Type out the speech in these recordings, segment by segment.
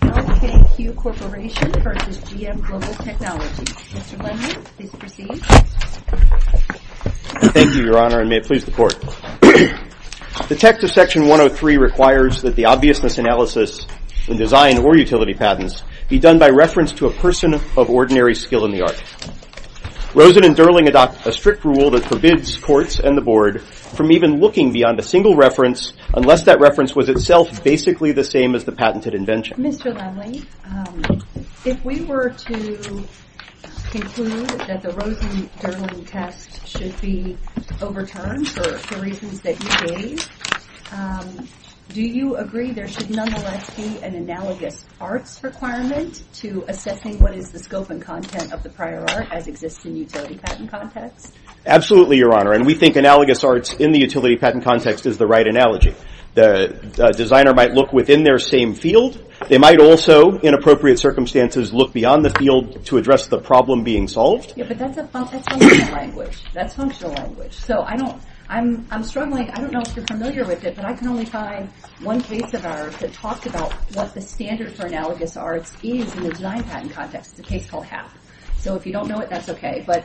LKQ Corporation v. GM Global Technology Mr. Lennon, please proceed. Thank you, Your Honor, and may it please the Court. The text of Section 103 requires that the obviousness analysis in design or utility patents be done by reference to a person of ordinary skill in the art. Rosen and Durling adopt a strict rule that forbids courts and the Board from even looking beyond a single reference unless that reference was itself basically the same as the patented invention. Mr. Lennon, if we were to conclude that the Rosen-Durling test should be overturned for reasons that you say, do you agree there should nonetheless be an analogous arts requirement to assessing what is the scope and content of the prior art as exists in the utility patent context? Absolutely, Your Honor, and we think analogous arts in the utility patent context is the right analogy. The designer might look within their same field. They might also, in appropriate circumstances, look beyond the field to address the problem being solved. Yeah, but that's a functional language. That's functional language. So I don't, I'm struggling, I don't know if you're familiar with it, but I can only find one piece of art that talks about what the standards for analogous arts is in the design patent context, the K-12 half. So if you don't know it, that's okay. But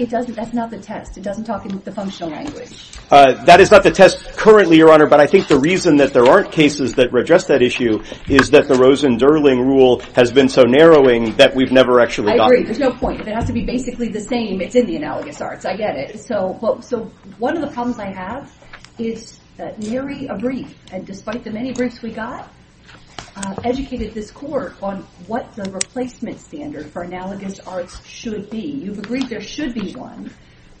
it doesn't, that's not the test. It doesn't talk in the functional language. That is not the test currently, Your Honor, but I think the reason that there aren't cases that address that issue is that the Rosen-Durling rule has been so narrowing that we've never actually gotten it. I agree. There's no point. If it has to be basically the same, it's in the analogous arts. I get it. So one of the problems I have is that Mary Abrief, despite the many briefs we got, educated this court on what the replacement standard for analogous arts should be. You've agreed there should be one,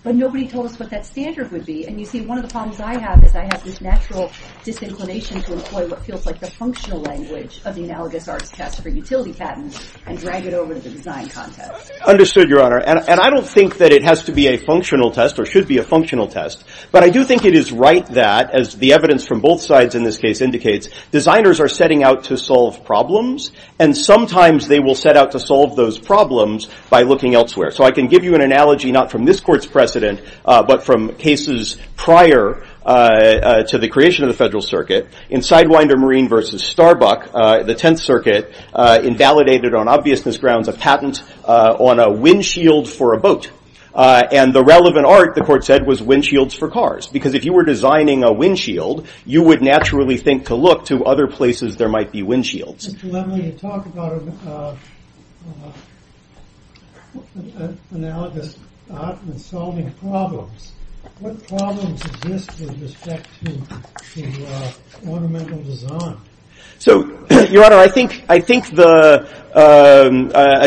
but nobody told us what that standard would be. And you see one of the problems I have is I have this natural disinclination to employ what feels like the functional language of the analogous arts test for utility patents and drag it over to the design context. Understood, Your Honor. And I don't think that it has to be a functional test or should be a functional test, but I do think it is right that, as the evidence from both sides in this case indicates, designers are setting out to solve problems, and sometimes they will set out to solve those problems by looking elsewhere. So I can give you an analogy not from this Court's precedent, but from cases prior to the creation of the Federal Circuit, in Sidewinder Marine v. Starbuck, the Tenth Circuit, invalidated on obviousness grounds a patent on a windshield for a boat. And the relevant art, the Court said, was windshields for cars, because if you were designing a windshield, you would naturally think to look to other places there might be windshields. So, Your Honor, I think a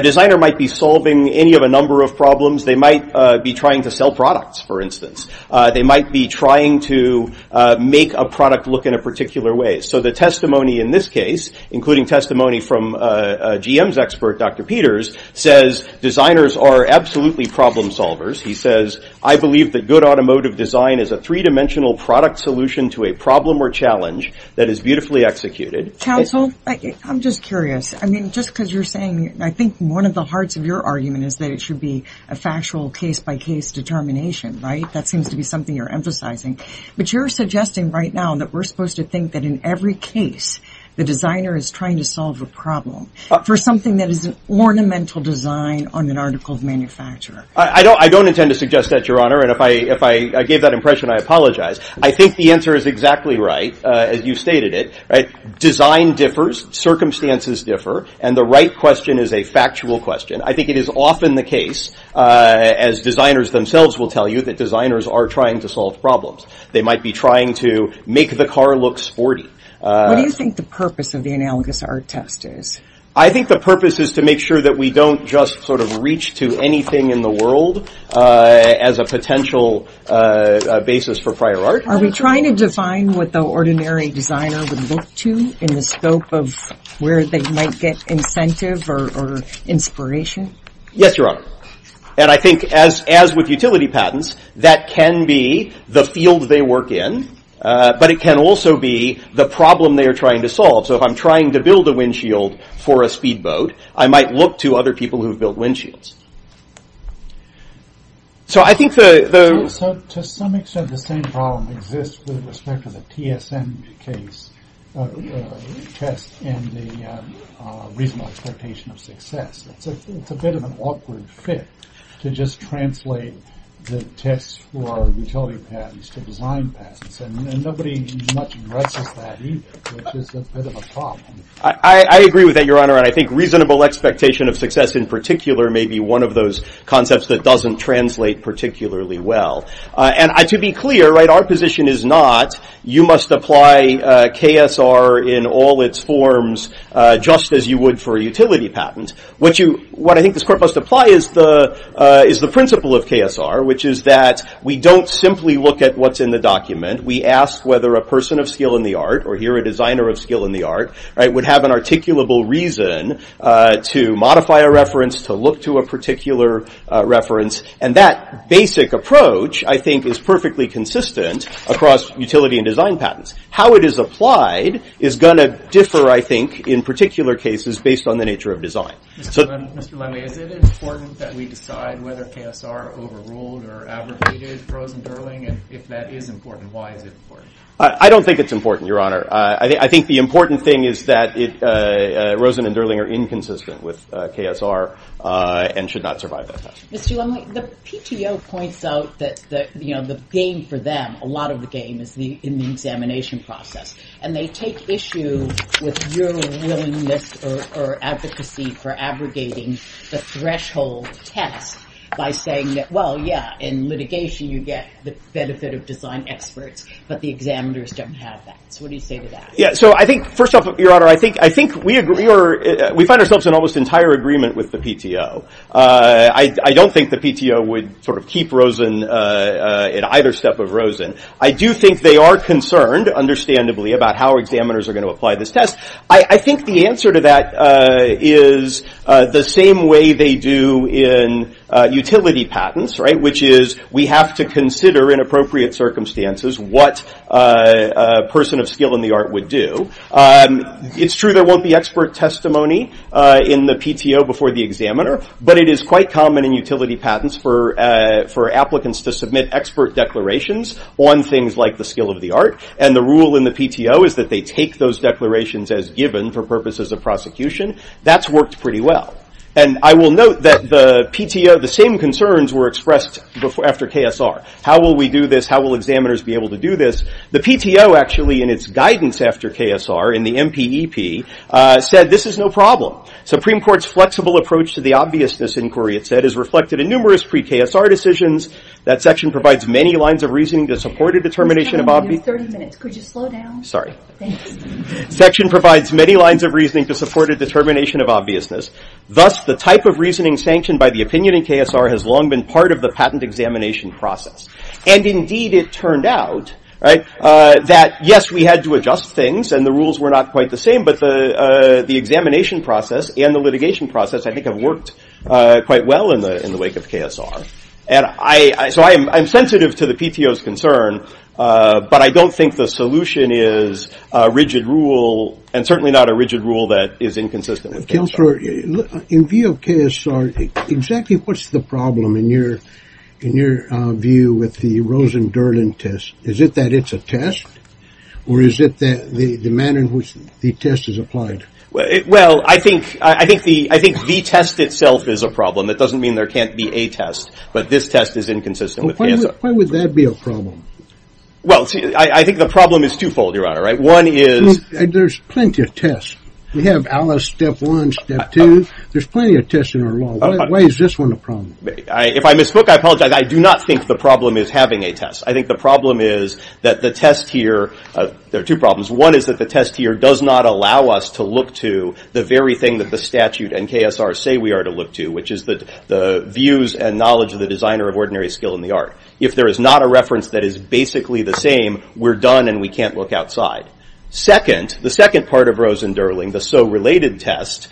designer might be solving any of a number of problems. They might be trying to sell products, for instance. They might be trying to make a product look in a particular way. So the testimony in this case, including testimony from GM's expert, Dr. Peters, says designers are absolutely problem solvers. He says, I believe that good automotive design is a three-dimensional product solution to a problem or challenge that is beautifully executed. Counsel, I'm just curious. I mean, just because you're saying, I think one of the hearts of your argument is that it should be a factual case-by-case determination, right? That seems to be something you're emphasizing. But you're suggesting right now that we're supposed to think that in every case the designer is trying to solve a problem for something that is an ornamental design on an article of manufacture. I don't intend to suggest that, Your Honor. And if I gave that impression, I apologize. I think the answer is exactly right, as you stated it. Design differs, circumstances differ, and the right question is a factual question. I think it is often the case, as designers themselves will tell you, that designers are trying to solve problems. They might be trying to make the car look sporty. What do you think the purpose of the analogous art test is? I think the purpose is to make sure that we don't just sort of reach to anything in the world as a potential basis for prior art. Are we trying to define what the ordinary designer would look to in the scope of where they might get incentive or inspiration? Yes, Your Honor. And I think, as with utility patents, that can be the field they work in, but it can also be the problem they are trying to solve. So if I'm trying to build a windshield for a speedboat, I might look to other people who have built windshields. So I think the... To some extent, the same problem exists with respect to the TSM test and the reasonable expectation of success. It's a bit of an awkward fit to just translate the test for utility patents to design patents, and nobody much addresses that either. It's just a bit of a problem. I agree with that, Your Honor, and I think reasonable expectation of success in particular may be one of those concepts that doesn't translate particularly well. And to be clear, our position is not you must apply KSR in all its forms just as you would for a utility patent, what I think this Court must apply is the principle of KSR, which is that we don't simply look at what's in the document. We ask whether a person of skill in the art, or here a designer of skill in the art, would have an articulable reason to modify a reference, to look to a particular reference, and that basic approach, I think, is perfectly consistent across utility and design patents. How it is applied is going to differ, I think, in particular cases, based on the nature of design. Mr. Lumley, is it important that we decide whether KSR overruled or outrated Rosen and Durling, and if that is important, why is it important? I don't think it's important, Your Honor. I think the important thing is that Rosen and Durling are inconsistent with KSR and should not survive that test. Mr. Lumley, the PTO points out that the game for them, a lot of the game is in the examination process, and they take issue with your willingness or advocacy for abrogating the threshold test by saying that, well, yeah, in litigation you get the benefit of design experts, but the examiners don't have that. So what do you say to that? First off, Your Honor, I think we find ourselves in almost entire agreement with the PTO. I don't think the PTO would sort of keep Rosen at either step of Rosen. I do think they are concerned, understandably, about how examiners are going to apply this test. I think the answer to that is the same way they do in utility patents, right, which is we have to consider in appropriate circumstances what a person of skill in the art would do. It's true there won't be expert testimony in the PTO before the examiner, but it is quite common in utility patents for applicants to submit expert declarations on things like the skill of the art, and the rule in the PTO is that they take those declarations as given for purposes of prosecution. That's worked pretty well. And I will note that the PTO, the same concerns were expressed after KSR. How will we do this? How will examiners be able to do this? The PTO, actually, in its guidance after KSR, in the MPEP, said this is no problem. Supreme Court's flexible approach to the obviousness inquiry, it said, is reflected in numerous pre-KSR decisions. That section provides many lines of reasoning to support a determination of obviousness. Section provides many lines of reasoning to support a determination of obviousness. Thus, the type of reasoning sanctioned by the opinion in KSR has long been part of the patent examination process. And, indeed, it turned out that, yes, we had to adjust things, and the rules were not quite the same, but the examination process and the litigation process, I think, have worked quite well in the wake of KSR. And so I'm sensitive to the PTO's concern, but I don't think the solution is a rigid rule, and certainly not a rigid rule that is inconsistent with KSR. In view of KSR, exactly what's the problem, in your view, with the Rosen-Durden test? Is it that it's a test, or is it the manner in which the test is applied? Well, I think the test itself is a problem. It doesn't mean there can't be a test, but this test is inconsistent with KSR. Why would that be a problem? Well, I think the problem is twofold, Your Honor. One is... There's plenty of tests. We have Alice Step 1, Step 2. There's plenty of tests in our law. Why is this one a problem? If I misspoke, I apologize. I do not think the problem is having a test. I think the problem is that the test here... There are two problems. One is that the test here does not allow us to look to the very thing that the statute and KSR say we are to look to, which is the views and knowledge of the designer of ordinary skill in the art. If there is not a reference that is basically the same, we're done, and we can't look outside. Second, the second part of Rosen-Durling, the so-related test,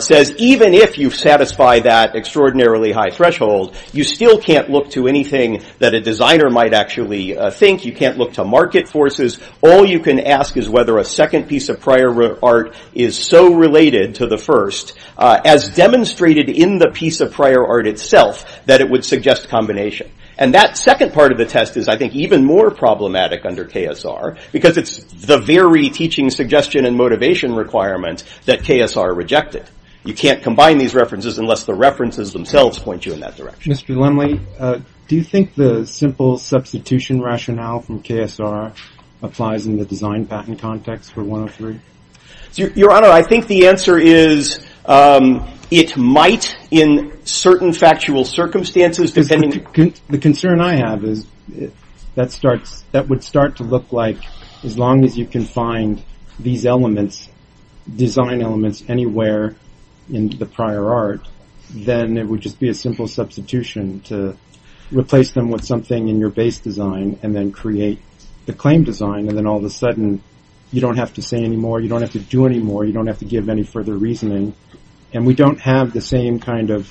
says even if you satisfy that extraordinarily high threshold, you still can't look to anything that a designer might actually think. You can't look to market forces. All you can ask is whether a second piece of prior art is so related to the first, as demonstrated in the piece of prior art itself, that it would suggest combination. And that second part of the test is, I think, even more problematic under KSR, because it's the very teaching suggestion and motivation requirement that KSR rejected. You can't combine these references unless the references themselves point you in that direction. Mr. Linley, do you think the simple substitution rationale from KSR applies in the design patent context for 103? Your Honor, I think the answer is it might in certain factual circumstances, depending... The concern I have is that would start to look like as long as you can find these elements, design elements anywhere in the prior art, then it would just be a simple substitution to replace them with something in your base design and then create the claim design. And then all of a sudden, you don't have to say any more, you don't have to do any more, you don't have to give any further reasoning. And we don't have the same kind of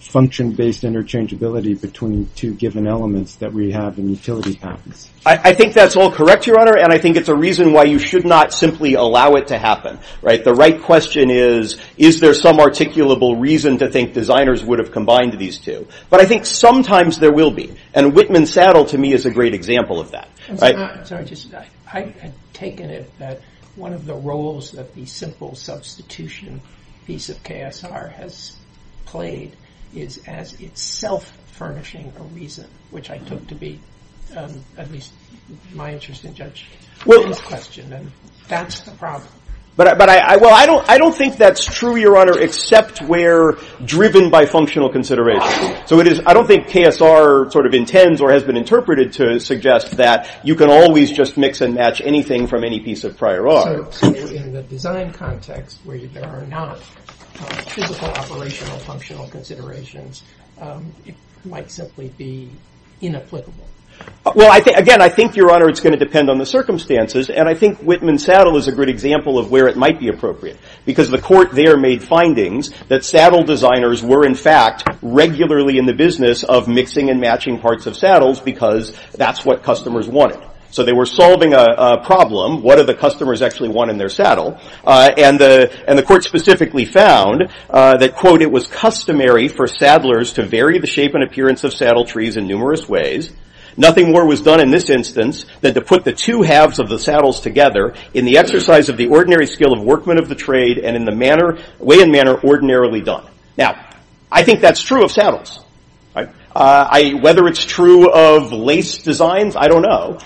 function-based interchangeability between the two given elements that we have in the utility patent. I think that's all correct, Your Honor, and I think it's a reason why you should not simply allow it to happen. The right question is, is there some articulable reason to think designers would have combined these two? But I think sometimes there will be. And Whitman Saddle, to me, is a great example of that. I've taken it that one of the roles that the simple substitution piece of KSR has played is as itself furnishing the reason, which I think to be, at least in my interest and Judge Whitman's question, and that's the problem. But I don't think that's true, Your Honor, except where driven by functional consideration. So I don't think KSR sort of intends or has been interpreted to suggest that you can always just mix and match anything from any piece of prior art. Well, again, I think, Your Honor, it's going to depend on the circumstances, and I think Whitman Saddle is a good example of where it might be appropriate, because the court there made findings that saddle designers were, in fact, regularly in the business of mixing and matching parts of saddles because that's what customers wanted. So they were solving a problem. What do the customers actually want in their saddle? And the court specifically found that, quote, it was customary for saddlers to vary the shape and appearance of saddle trees in numerous ways. Nothing more was done in this instance than to put the two halves of the saddles together in the exercise of the ordinary skill of workmen of the trade and in the way and manner ordinarily done. Now, I think that's true of saddles. Whether it's true of lace designs, I don't know.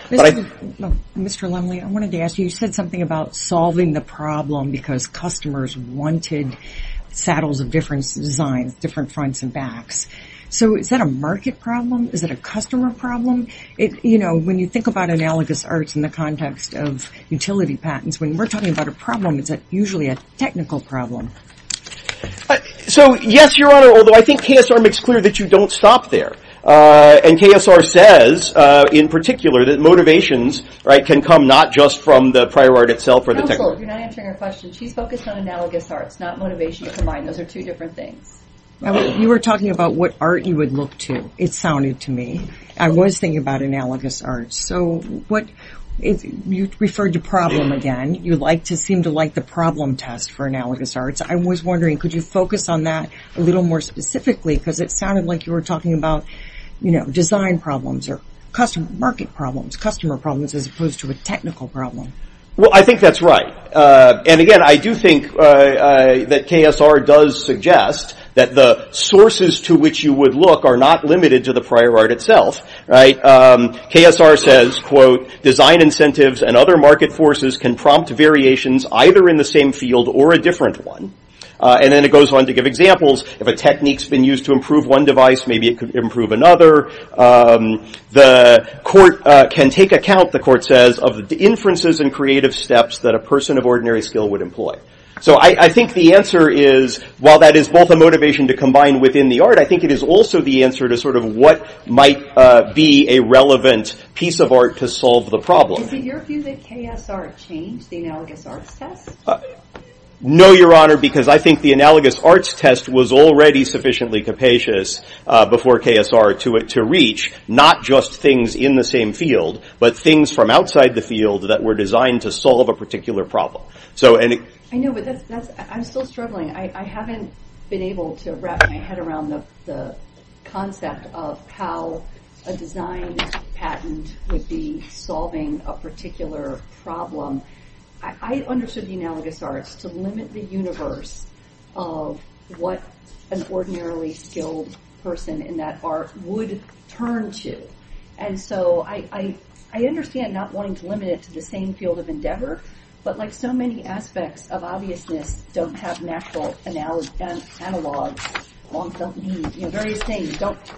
Mr. Lumley, I wanted to ask you, you said something about solving the problem because customers wanted saddles of different designs, different fronts and backs. So is that a market problem? Is it a customer problem? When you think about analogous arts in the context of utility patents, when we're talking about a problem, is it usually a technical problem? So, yes, Your Honor, although I think KSR makes clear that you don't stop there. And KSR says, in particular, that motivations can come not just from the prior art itself. Counselor, you're not answering our question. She focused on analogous arts, not motivations combined. Those are two different things. You were talking about what art you would look to. It sounded to me. I was thinking about analogous arts. So you referred to problem again. You seem to like the problem test for analogous arts. I was wondering, could you focus on that a little more specifically because it sounded like you were talking about design problems or market problems, customer problems as opposed to a technical problem. Well, I think that's right. And, again, I do think that KSR does suggest that the sources to which you would look are not limited to the prior art itself. KSR says, quote, design incentives and other market forces can prompt variations either in the same field or a different one. And then it goes on to give examples. If a technique's been used to improve one device, maybe it could improve another. The court can take account, the court says, of the inferences and creative steps that a person of ordinary skill would employ. So I think the answer is, while that is both a motivation to combine within the art, I think it is also the answer to sort of what might be a relevant piece of art to solve the problem. Did your view that KSR changed the analogous arts test? No, Your Honor, because I think the analogous arts test was already sufficiently capacious before KSR to reach not just things in the same field but things from outside the field that were designed to solve a particular problem. I know, but I'm still struggling. I haven't been able to wrap my head around the concept of how a design patent would be solving a particular problem. I understood the analogous arts to limit the universe of what an ordinarily skilled person in that art would turn to. And so I understand not wanting to limit it to the same field of endeavor, but like so many aspects of obviousness don't have natural analogs.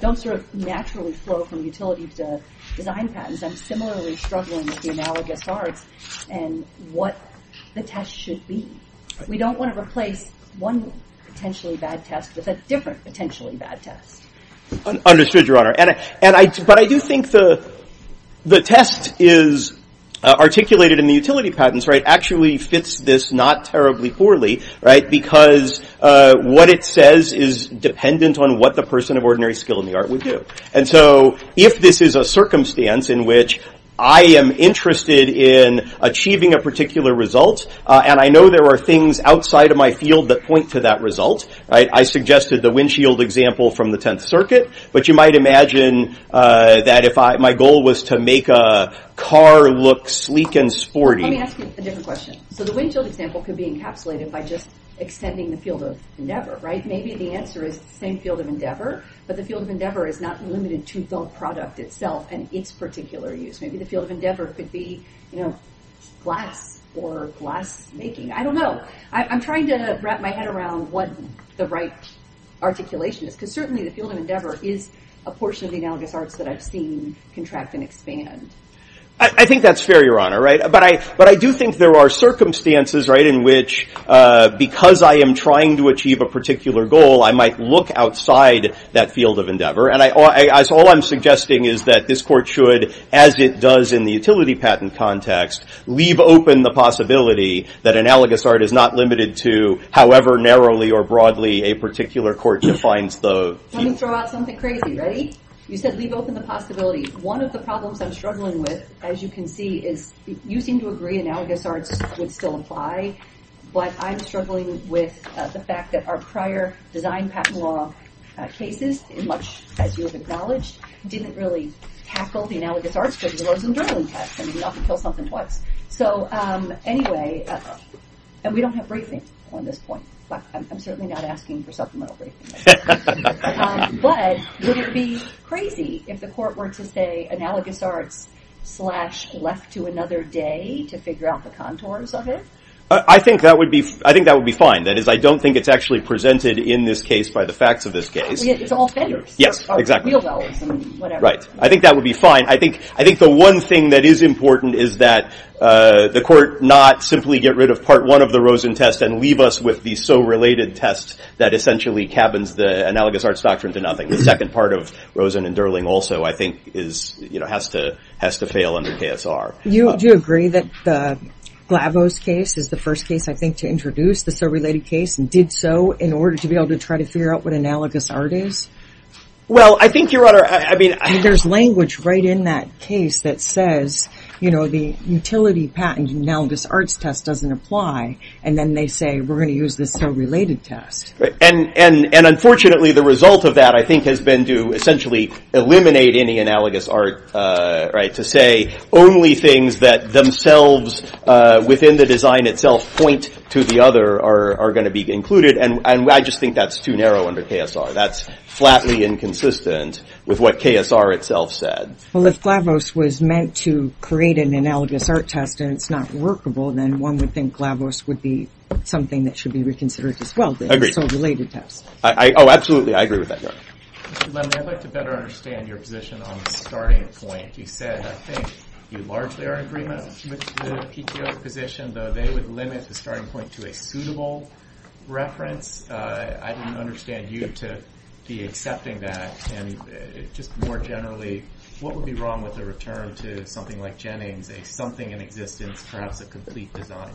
Don't sort of naturally flow from utilities to design patents. I'm similarly struggling with the analogous arts and what the test should be. We don't want to replace one potentially bad test with a different potentially bad test. Understood, Your Honor. But I do think the test is articulated in the utility patents actually fits this not terribly poorly because what it says is dependent on what the person of ordinary skill in the art would do. And so if this is a circumstance in which I am interested in achieving a particular result and I know there are things outside of my field that point to that result, I suggested the windshield example from the Tenth Circuit, but you might imagine that if my goal was to make a car look sleek and sporty. Let me ask you a different question. So the windshield example could be encapsulated by just extending the field of endeavor, right? Maybe the answer is same field of endeavor, but the field of endeavor is not limited to the product itself and its particular use. Maybe the field of endeavor could be glass or glass making. I don't know. I'm trying to wrap my head around what the right articulation is but certainly the field of endeavor is a portion of the analogous arts that I've seen contract and expand. I think that's fair, Your Honor. But I do think there are circumstances in which because I am trying to achieve a particular goal, I might look outside that field of endeavor. And all I'm suggesting is that this court should, as it does in the utility patent context, leave open the possibility that analogous art is not limited to however narrowly or broadly a particular court defines those. Let me throw out something crazy. Ready? You said leave open the possibility. One of the problems I'm struggling with, as you can see, is you seem to agree analogous art would still apply, but I'm struggling with the fact that our prior design patent law cases, in which, as you have acknowledged, didn't really tackle the analogous arts, but it was a modeling test. Maybe I can tell something more. So anyway, and we don't have briefings on this point. I'm certainly not asking for supplemental briefings. But would it be crazy if the court were to say analogous art slash left to another day to figure out the contours of it? I think that would be fine. That is, I don't think it's actually presented in this case by the facts of this case. It's authentic. Yes, exactly. Or real well, whatever. Right. I think that would be fine. I think the one thing that is important is that the court not simply get rid of part one of the Rosen test and leave us with these so-related tests that essentially cabins the analogous arts doctrine to nothing. The second part of Rosen and Durling also, I think, has to fail under KSR. Do you agree that Glavo's case is the first case, I think, to introduce the so-related case and did so in order to be able to try to figure out what analogous art is? Well, I think, Your Honor, I mean... There's language right in that case that says, you know, the utility patent analogous arts test doesn't apply. And then they say we're going to use the so-related test. And unfortunately, the result of that, I think, has been to essentially eliminate any analogous art, right, to say only things that themselves within the design itself point to the other are going to be included. And I just think that's too narrow under KSR. That's flatly inconsistent with what KSR itself said. Well, if Glavo's was meant to create an analogous art test and it's not workable, then one would think Glavo's would be something that should be reconsidered as well, the so-related test. Oh, absolutely. I agree with that. I'd like to better understand your position on the starting point. You said, I think, you largely are in agreement with the PTO position, though they would limit the starting point to a suitable reference. I don't understand you to be accepting that. And just more generally, what would be wrong with a return to something like Jennings, something in existence, perhaps a complete design?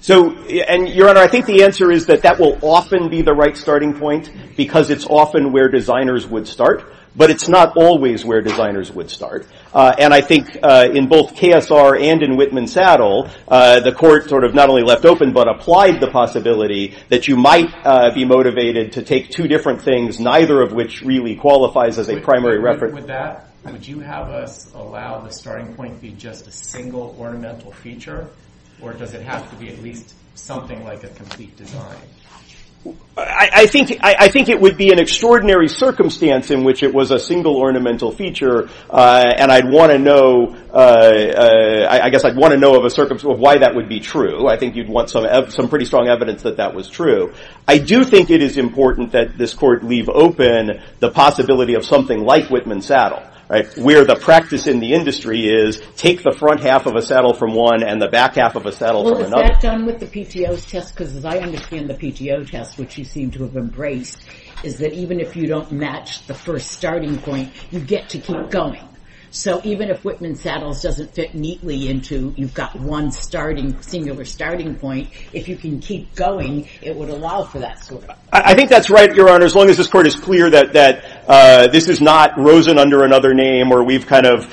So, Your Honor, I think the answer is that that will often be the right starting point because it's often where designers would start. But it's not always where designers would start. And I think in both KSR and in Whitman Saddle, the court sort of not only left open, but applied the possibility that you might be motivated to take two different things, neither of which really qualifies as a primary reference. I agree with that. Would you have to allow the starting point to be just a single ornamental feature, or does it have to be at least something like a complete design? I think it would be an extraordinary circumstance in which it was a single ornamental feature, and I'd want to know of a circumstance of why that would be true. I think you'd want some pretty strong evidence that that was true. I do think it is important that this court leave open the possibility of something like Whitman Saddle, where the practice in the industry is take the front half of a saddle from one and the back half of a saddle from another. Well, is that done with the PTO test? Because I understand the PTO test, which you seem to have embraced, is that even if you don't match the first starting point, you get to keep going. So even if Whitman Saddle doesn't fit neatly into you've got one singular starting point, if you can keep going, it will allow for that to work. I think that's right, Your Honor, as long as this court is clear that this is not Rosen under another name where we've kind of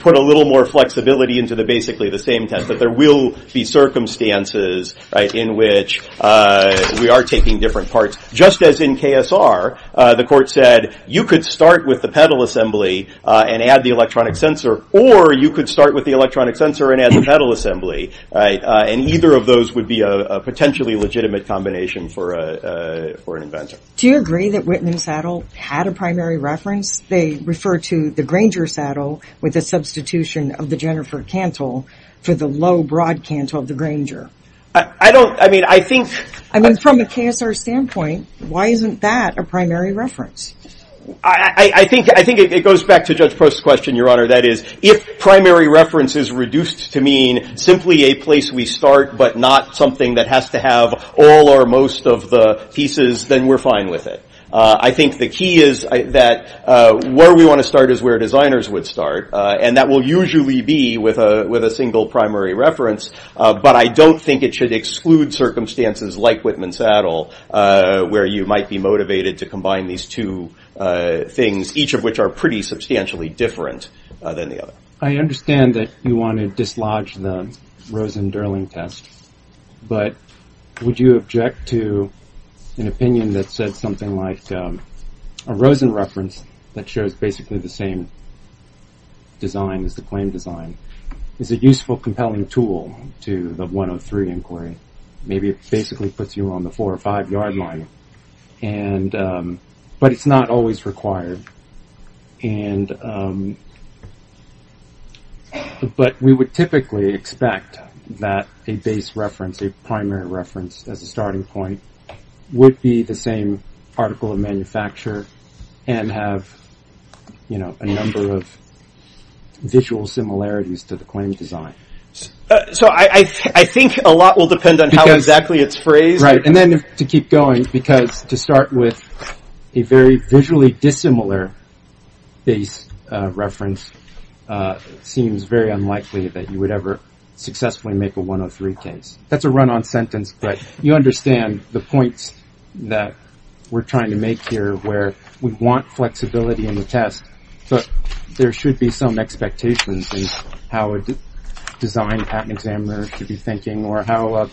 put a little more flexibility into basically the same test, that there will be circumstances in which we are taking different parts. Just as in KSR, the court said you could start with the pedal assembly and add the electronic sensor, or you could start with the electronic sensor and add the pedal assembly, and either of those would be a potentially legitimate combination for an inventor. Do you agree that Whitman Saddle had a primary reference? They refer to the Granger saddle with a substitution of the Jennifer Cantle to the low, broad Cantle of the Granger. I don't, I mean, I think... I mean, from a KSR standpoint, why isn't that a primary reference? I think it goes back to Judge Post's question, Your Honor. That is, if primary reference is reduced to mean simply a place we start, but not something that has to have all or most of the pieces, then we're fine with it. I think the key is that where we want to start is where designers would start, and that will usually be with a single primary reference, but I don't think it should exclude circumstances like Whitman Saddle where you might be motivated to combine these two things, each of which are pretty substantially different than the other. I understand that you want to dislodge the Rosen-Durling test, but would you object to an opinion that said something like, a Rosen reference that shows basically the same design as the claim design is a useful, compelling tool to the 103 inquiry. Maybe it basically puts you on the four or five yard line, but it's not always required. But we would typically expect that a base reference, a primary reference, as a starting point would be the same particle of manufacture and have a number of visual similarities to the claim design. So I think a lot will depend on how exactly it's phrased. And then to keep going, because to start with a very visually dissimilar base reference seems very unlikely that you would ever successfully make a 103 case. That's a run-on sentence, but you understand the points that we're trying to make here where we want flexibility in the test, but there should be some expectations in how a design patent examiner should be thinking or how a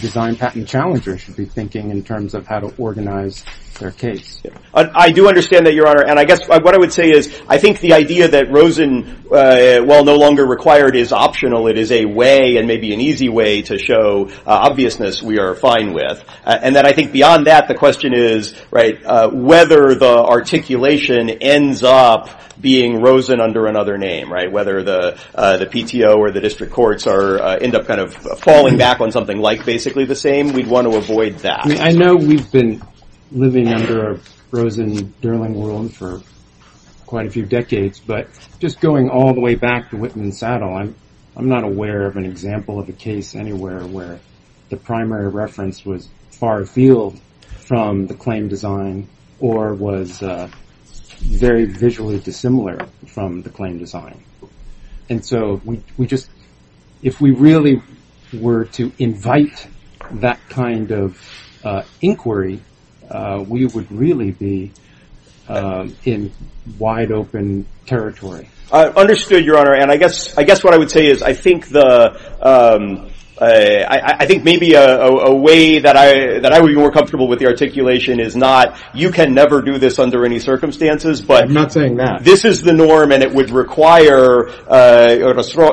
design patent challenger should be thinking in terms of how to organize their case. I do understand that, Your Honor, and I guess what I would say is, I think the idea that Rosen, while no longer required, is optional. It is a way and maybe an easy way to show obviousness we are fine with. And then I think beyond that, the question is, right, whether the articulation ends up being Rosen under another name, right, whether the PTO or the district courts end up kind of falling back on something like basically the same. We'd want to avoid that. I know we've been living under a Rosen-Derling world for quite a few decades, but just going all the way back to Whitten and Saddle, I'm not aware of an example of a case anywhere where the primary reference was far-field from the claim design or was very visually dissimilar from the claim design. And so if we really were to invite that kind of inquiry, we would really be in wide-open territory. I understood, Your Honor, and I guess what I would say is, I think maybe a way that I would be more comfortable with the articulation is not, you can never do this under any circumstances, but this is the norm and it would require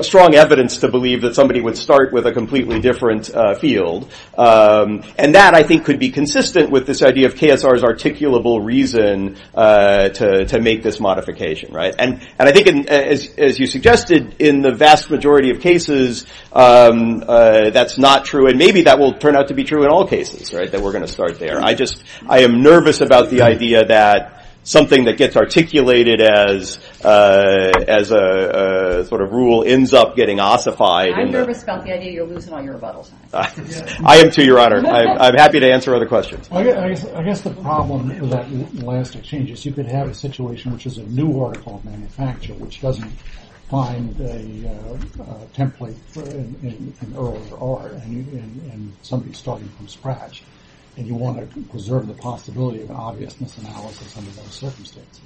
strong evidence to believe that somebody would start with a completely different field. And that, I think, could be consistent with this idea of KSR's articulable reason to make this modification. And I think, as you suggested, in the vast majority of cases that's not true, and maybe that will turn out to be true in all cases, that we're going to start there. I am nervous about the idea that something that gets articulated as a sort of rule ends up getting ossified. I'm nervous about the idea you're losing all your bubbles. I am too, Your Honor. I'm happy to answer other questions. I guess the problem is that you could have a situation which is a new article of manufacture, which doesn't find a template in O or R, and somebody's starting from scratch, and you want to preserve the possibility of an obvious misanalysis under those circumstances.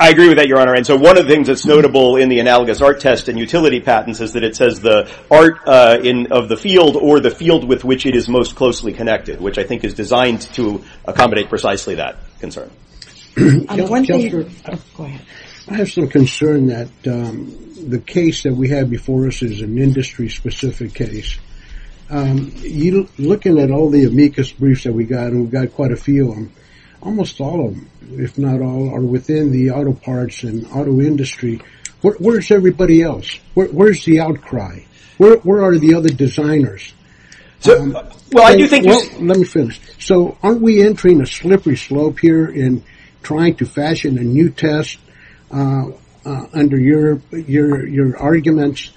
I agree with that, Your Honor. And so one of the things that's notable in the Analogous Art Test and Utility Patents is that it says the art of the field or the field with which it is most closely connected, which I think is designed to accommodate precisely that concern. I have some concern that the case that we have before us is an industry-specific case. Looking at all the amicus briefs that we've got, and we've got quite a few of them, almost all of them, if not all, are within the auto parts and auto industry. Where's everybody else? Where's the outcry? Where are the other designers? Let me finish. So aren't we entering a slippery slope here in trying to fashion a new test under your arguments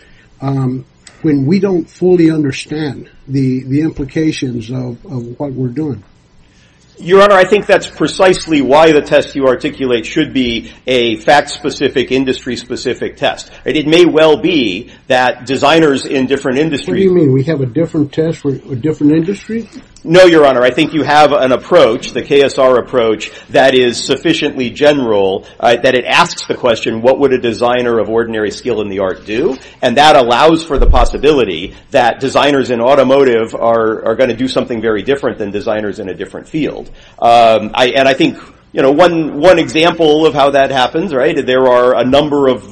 when we don't fully understand the implications of what we're doing? Your Honor, I think that's precisely why the test you articulate should be a fact-specific, industry-specific test. It may well be that designers in different industries Do you mean we have a different test for different industries? No, Your Honor. I think you have an approach, the KSR approach, that is sufficiently general that it asks the question, what would a designer of ordinary skill in the art do? And that allows for the possibility that designers in automotive are going to do something very different than designers in a different field. And I think one example of how that happens, right, there are a number of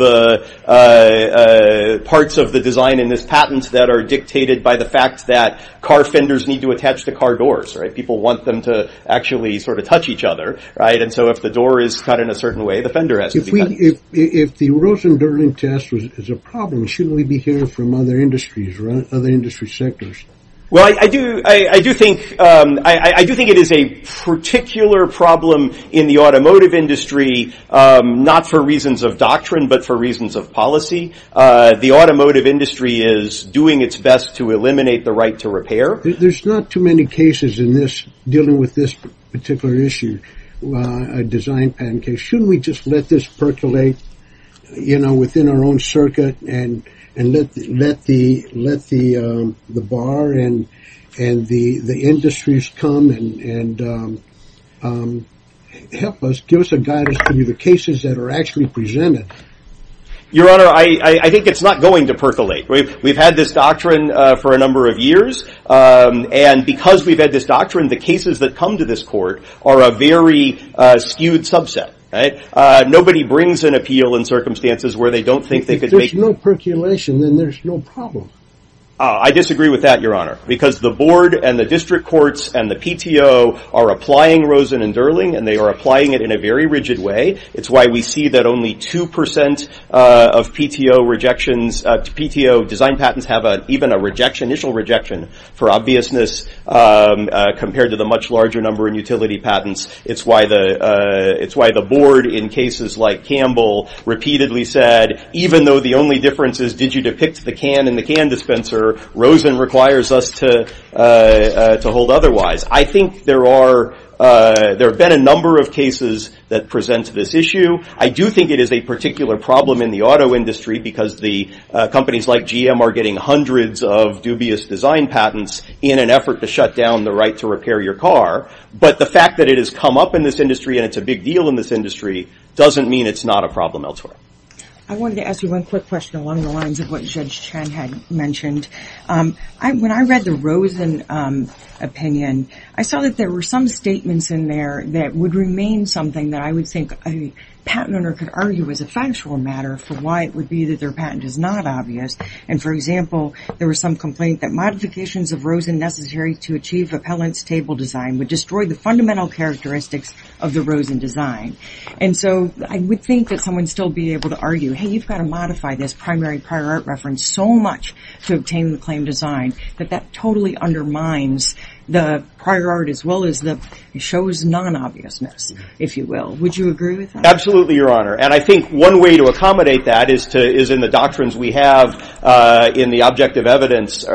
parts of the design in this patent that are dictated by the fact that car fenders need to attach to car doors, right? People want them to actually sort of touch each other, right? And so if the door is cut in a certain way, the fender has to be cut. If the Rosen-Durden test is a problem, shouldn't we be hearing from other industries or other industry sectors? Well, I do think it is a particular problem in the automotive industry not for reasons of doctrine, but for reasons of policy. The automotive industry is doing its best to eliminate the right to repair. There's not too many cases in this dealing with this particular issue, a design patent case. Shouldn't we just let this percolate, you know, within our own circuit and let the bar and the industries come and help us, and let Joseph guide us through the cases that are actually presented? Your Honor, I think it's not going to percolate. We've had this doctrine for a number of years, and because we've had this doctrine, the cases that come to this court are a very skewed subset, right? Nobody brings an appeal in circumstances where they don't think they could make it. If there's no percolation, then there's no problem. I disagree with that, Your Honor, because the board and the district courts and the PTO are applying Rosen and Durling, and they are applying it in a very rigid way. It's why we see that only 2% of PTO design patents have even an initial rejection for obviousness compared to the much larger number in utility patents. It's why the board in cases like Campbell repeatedly said, even though the only difference is did you depict the can in the can dispenser, Rosen requires us to hold otherwise. I think there have been a number of cases that present this issue. I do think it is a particular problem in the auto industry because the companies like GM are getting hundreds of dubious design patents in an effort to shut down the right to repair your car, but the fact that it has come up in this industry and it's a big deal in this industry doesn't mean it's not a problem elsewhere. I wanted to ask you one quick question along the lines of what Judge Chang had mentioned. When I read the Rosen opinion, I saw that there were some statements in there that would remain something that I would think a patent owner could argue was a factual matter for why it would be that their patent is not obvious. For example, there was some complaint that modifications of Rosen necessary to achieve repellent table design would destroy the fundamental characteristics of the Rosen design. You've got to modify this primary prior art reference so much to obtain the claim design, but that totally undermines the prior art as well as shows non-obviousness, if you will. Would you agree with that? Absolutely, Your Honor. I think one way to accommodate that is in the doctrines we have in the object of evidence.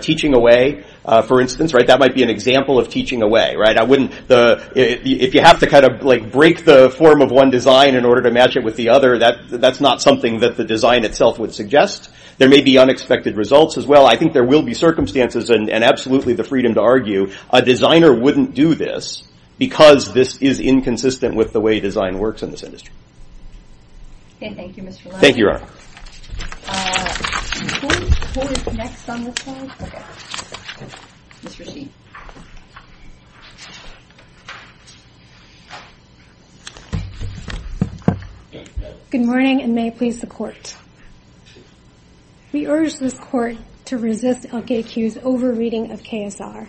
Teaching away, for instance, that might be an example of teaching away. If you have to break the form of one design in order to match it with the other, that's not something that the design itself would suggest. There may be unexpected results as well. I think there will be circumstances and absolutely the freedom to argue. A designer wouldn't do this because this is inconsistent with the way design works in this industry. Thank you, Mr. Lyons. Thank you, Your Honor. Who is next on the floor? Good morning, and may I please report? We urge the Court to resist LKQ's over-reading of KSR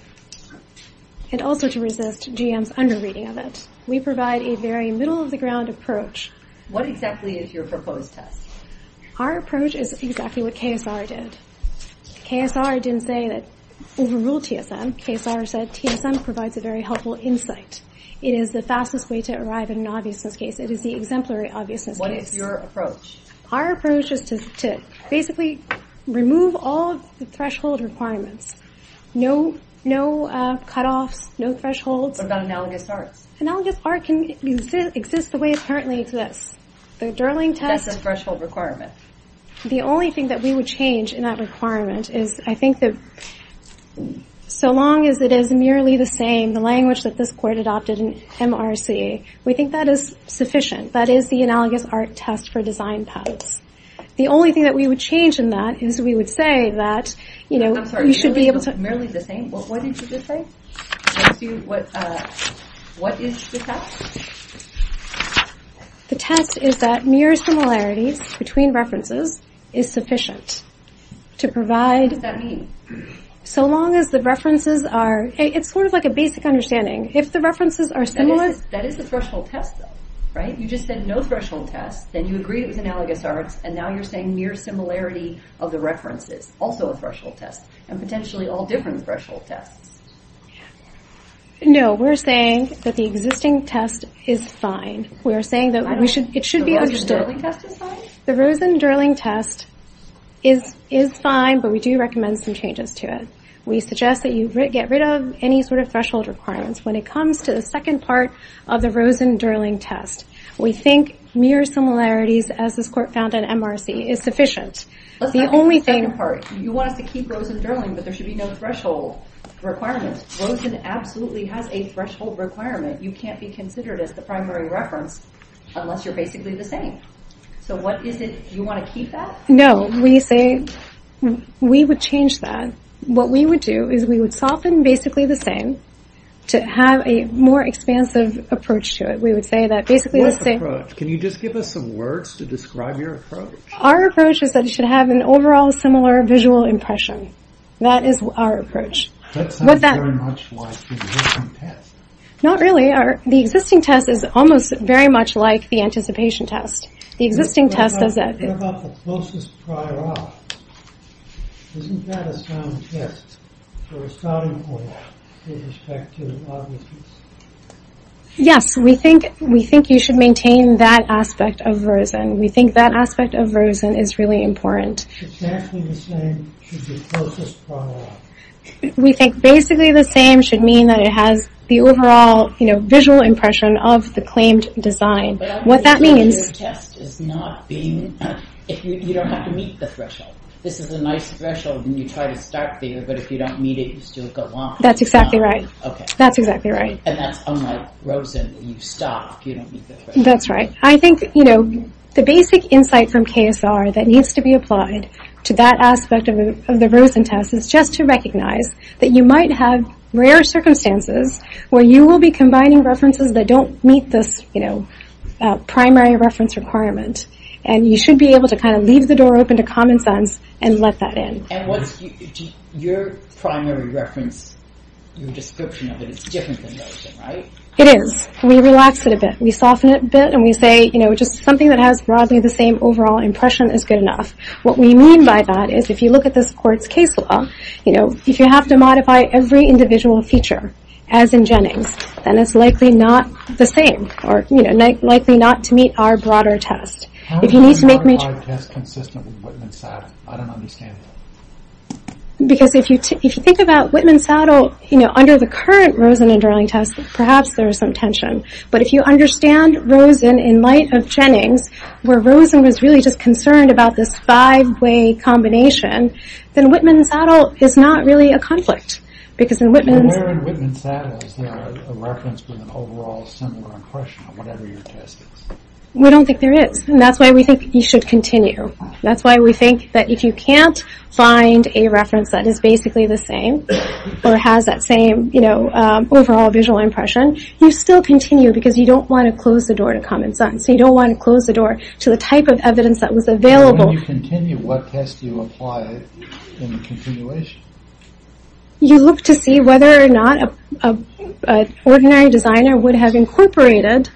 and also to resist GM's under-reading of it. We provide a very middle-of-the-ground approach. What exactly is your proposed test? Our approach is exactly what KSR did. KSR didn't say that overrule TSM. KSR said TSM provides a very helpful insight. It is the fastest way to arrive at an obviousness case. It is the exemplary obviousness case. What is your approach? Our approach is to basically remove all threshold requirements. No cut-offs, no thresholds. What about analogous art? Analogous art exists the way it currently exists. That is a threshold requirement. The only thing that we would change in that requirement is I think that so long as it is merely the same, the language that this Court adopted in MRC, we think that is sufficient. That is the analogous art test for design patterns. The only thing that we would change in that is we would say that we should be able to... I'm sorry, merely the same? What did you just say? What is the test? The test is that mere similarity between references is sufficient to provide... What does that mean? So long as the references are... It's sort of like a basic understanding. If the references are similar... That is a threshold test, though, right? You just said no threshold test, then you agreed with analogous art, and now you're saying mere similarity of the references, also a threshold test, and potentially all different threshold tests. No, we're saying that the existing test is fine. We are saying that it should be understood. The Rosen-Durling test is fine, but we do recommend some changes to it. We suggest that you get rid of any sort of threshold requirements when it comes to the second part of the Rosen-Durling test. We think mere similarities, as this Court found in MRC, is sufficient. You wanted to keep Rosen-Durling, but there should be no threshold requirement. Rosen absolutely has a threshold requirement. You can't be considered as the primary reference unless you're basically the same. So what is it? Do you want to keep that? No, we would change that. What we would do is we would soften basically the same to have a more expansive approach to it. We would say that basically... What approach? Can you just give us some words to describe your approach? Our approach is that it should have an overall similar visual impression. That is our approach. That sounds very much like the existing test. Not really. The existing test is almost very much like the anticipation test. The existing test does... What about the closest prior off? Isn't that a sound test for a sounding point in respect to a loudness? Yes. We think you should maintain that aspect of Rosen. We think that aspect of Rosen is really important. Exactly the same should be closest prior off. We think basically the same should mean that it has the overall visual impression of the claimed design. What that means... But that's exactly what your test is not being... You don't have to meet the threshold. If it's a nice threshold, then you try to start there, but if you don't meet it, you still go on. That's exactly right. Okay. That's exactly right. And that's unlike Rosen. When you stop, you don't meet the threshold. That's right. I think, you know, the basic insight from KSR that needs to be applied to that aspect of the Rosen test is just to recognize that you might have rare circumstances where you will be combining references that don't meet this, you know, primary reference requirement, and you should be able to kind of leave the door open to common sense and let that in. And what... Your primary reference, the description of it is different than Rosen, right? It is. We relax it a bit. We soften it a bit. And we say, you know, just something that has broadly the same overall impression is good enough. What we mean by that is if you look at this court's case law, you know, if you have to modify every individual feature, as in Jennings, then it's likely not the same or, you know, likely not to meet our broader test. If you need to make major... How is your test consistent with Whitman-Saddle? I don't understand that. Because if you think about Whitman-Saddle, you know, under the current Rosen and Darling test, perhaps there is some tension. But if you understand Rosen in light of Jennings, where Rosen was really just concerned about this five-way combination, then Whitman-Saddle is not really a conflict. Because in Whitman... Where in Whitman-Saddle is there a reference to an overall similar impression of whatever you're testing? We don't think there is. And that's why we think you should continue. That's why we think that if you can't find a reference that is basically the same or has that same, you know, overall visual impression, you still continue because you don't want to close the door to common sense. You don't want to close the door to the type of evidence that was available. When you continue, what test do you apply in continuation? You look to see whether or not an ordinary designer would have incorporated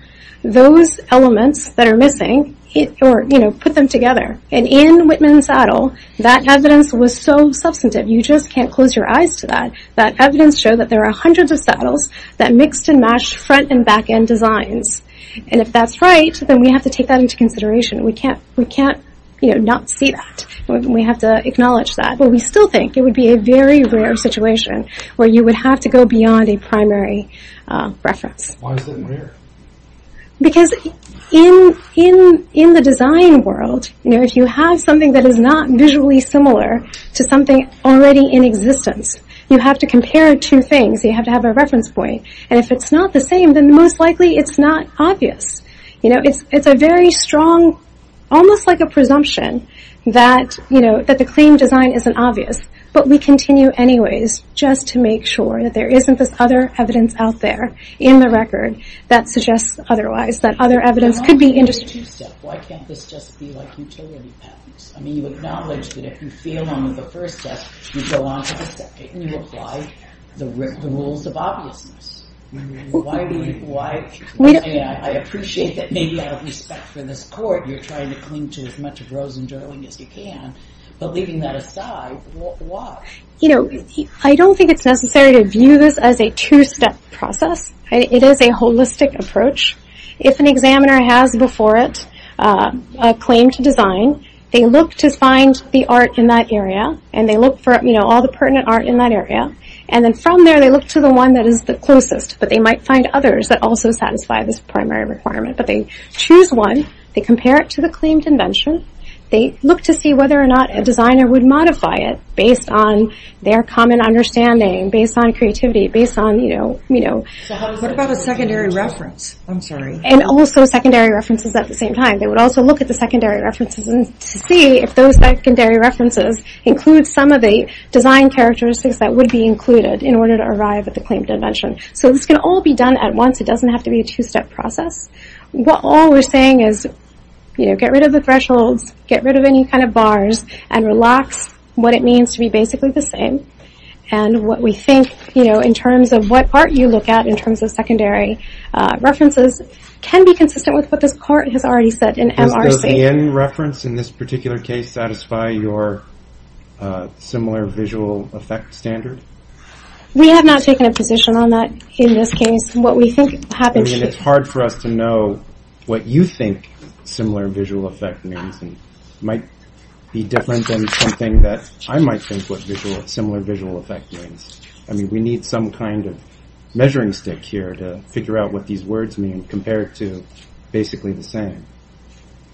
those elements that are missing or, you know, put them together. And in Whitman-Saddle, that evidence was so substantive, you just can't close your eyes to that, that evidence shows that there are hundreds of saddles that mix and match front and back end designs. And if that's right, then we have to take that into consideration. We can't, you know, not see that. We have to acknowledge that. But we still think it would be a very rare situation where you would have to go beyond a primary reference. Why is it rare? Because in the design world, you know, if you have something that is not visually similar to something already in existence, you have to compare two things. You have to have a reference point. And if it's not the same, then most likely it's not obvious. You know, it's a very strong, almost like a presumption that, you know, that the clean design isn't obvious. But we continue anyways just to make sure that there isn't this other evidence out there in the record that suggests otherwise, that other evidence could be interesting. Why can't this just be like utility patterns? I mean, you acknowledge that if you fail on the first test, you go on to the second. You apply the rules of obviousness. Why do you, why? I appreciate that maybe out of respect for this court, you're trying to cling to as much of Rose and Darling as you can. But leaving that aside, why? You know, I don't think it's necessary to view this as a two-step process. It is a holistic approach. If an examiner has before it a claim to design, they look to find the art in that area. And they look for, you know, all the pertinent art in that area. And then from there, they look to the one that is the closest. But they might find others that also satisfy this primary requirement. But they choose one. They compare it to the claim to mention. They look to see whether or not a designer would modify it based on their common understanding, based on creativity, based on, you know, you know. What about the secondary reference? I'm sorry. And also secondary references at the same time. They would also look at the secondary references and see if those secondary references include some of the design characteristics that would be included in order to arrive at the claim to mention. So this can all be done at once. It doesn't have to be a two-step process. What all we're saying is, you know, get rid of the thresholds. Get rid of any kind of bars. And relax what it means to be basically the same. And what we think, you know, in terms of what art you look at in terms of secondary references can be consistent with what this part has already said in MRC. So does any reference in this particular case satisfy your similar visual effect standard? We have not taken a position on that in this case. What we think happens to be. It's hard for us to know what you think similar visual effect means. Might be different than something that I might think what similar visual effect means. I mean, we need some kind of measuring stick here to figure out what these words mean compared to basically the same.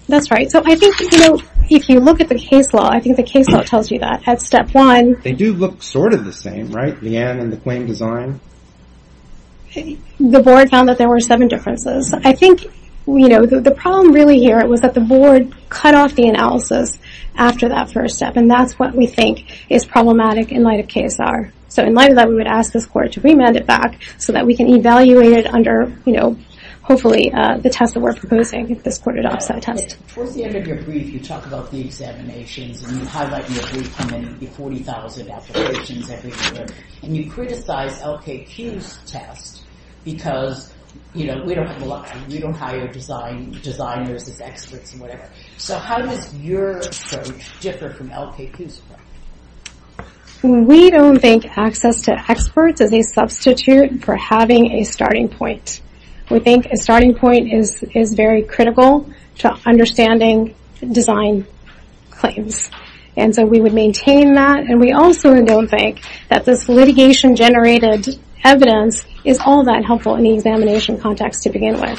That's right. So I think, you know, if you look at the case law, I think the case law tells you that at step one. They do look sort of the same, right? The end and the claim design. The board found that there were seven differences. I think, you know, the problem really here was that the board cut off the analysis after that first step. And that's what we think is problematic in light of KSR. So in light of that, we would ask this court to remand it back so that we can evaluate it under, you know, hopefully the test that we're proposing. Before the end of your brief, you talk about the examinations. And you highlight your 40,000 applications every year. And you criticize LK2 tests because, you know, we don't fly. We don't hire designers, the experts, whatever. So how does your approach differ from LK2's approach? We don't think access to experts is a substitute for having a starting point. We think a starting point is very critical to understanding design claims. And so we would maintain that. And we also don't think that this litigation-generated evidence is all that helpful in the examination context to begin with.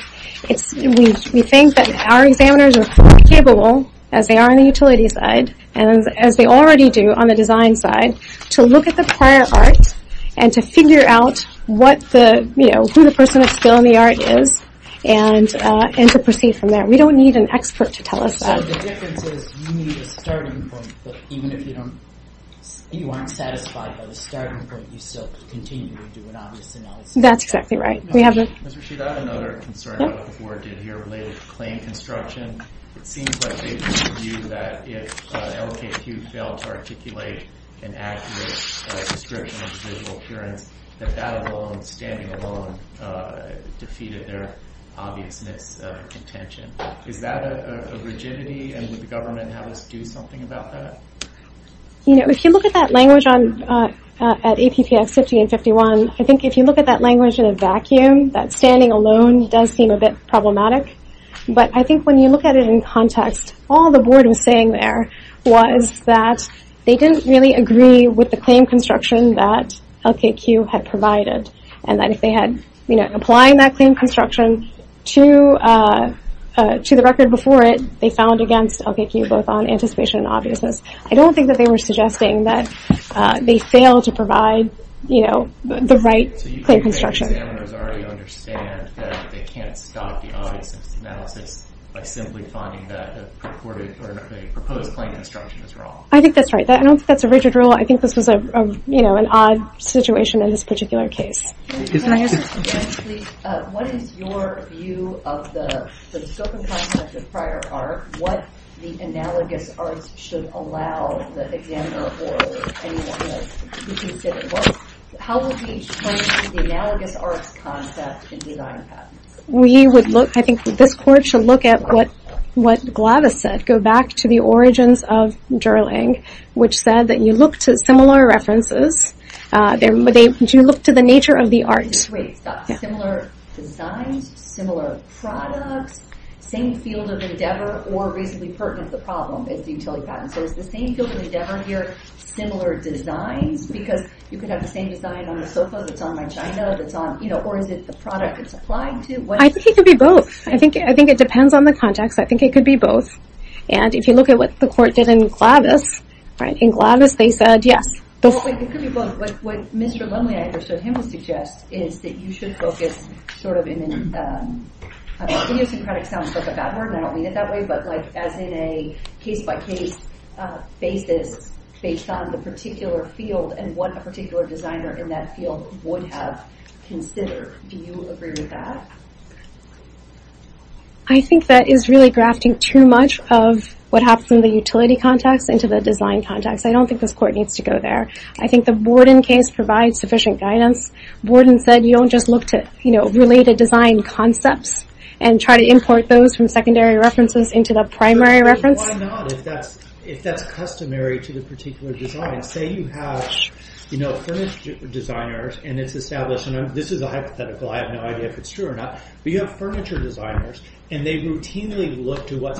We think that our examiners are as capable as they are on the utility side, and as they already do on the design side, to look at the prior art and to figure out what the, you know, who the person at scale in the art is, and to proceed from there. We don't need an expert to tell us that. The difference is you need a starting point. Even if you aren't satisfied by the starting point, you still continue to do an honest analysis. That's exactly right. We have this. Ms. Rasheeda, I have another concern about what the board did here related to claim construction. It seems like they view that if LKQs fail to articulate an accurate description of the visual appearance, that that alone, standing alone, defeated their obvious misintention. Is that a rigidity? And would the government have to do something about that? You know, if you look at that language at ATPS 1551, I think if you look at that language in a vacuum, that standing alone does seem a bit problematic. But I think when you look at it in context, all the board was saying there was that they didn't really agree with the claim construction that LKQ had provided, and that if they had, you know, applying that claim construction to the record before it, they found against LKQ, both on anticipation and obviousness. I don't think that they were suggesting that they fail to provide, you know, the right claim construction. The evidence already understands that they can't stop the obvious analysis by simply finding that a purported or a proposed claim construction is wrong. I think that's right. I don't think that's a rigid rule. I think this is a, you know, an odd situation in this particular case. What is your view of the scope and context of prior art? What the analogous art should allow the examiner or anyone else to do with this work? How would we explain the analogous art context in these archives? We would look, I think this court should look at what Gladys said. Go back to the origins of Gerling, which said that you look to similar references. You look to the nature of the art. Similar designs, similar products, same field of endeavor, or reasonably pertinent to the problem. Is the same field of endeavor here, similar designs? Because you could have the same design on the sofa that's on the china that's on, you know, or is it the product it's applied to? I think it could be both. I think it depends on the context. I think it could be both. And if you look at what the court did in Gladys, right, in Gladys they said yes. It could be both. What Mr. Lonely and I understood him to suggest is that you should look at sort of in a I know syncretic sounds like a bad word and I don't mean it that way, but like as in a case-by-case basis based on the particular field and what the particular designer in that field would have considered. Do you agree with that? I think that is really grafting too much of what happens in the utility context into the design context. I don't think this court needs to go there. I think the Borden case provides sufficient guidance. Borden said you don't just look to, you know, related design concepts and try to import those from secondary references into the primary reference. Why not? If that's customary to the particular design. Say you have, you know, furniture designers and it's established, and this is a hypothetical, I have no idea if it's true or not, but you have furniture designers and they routinely look to what's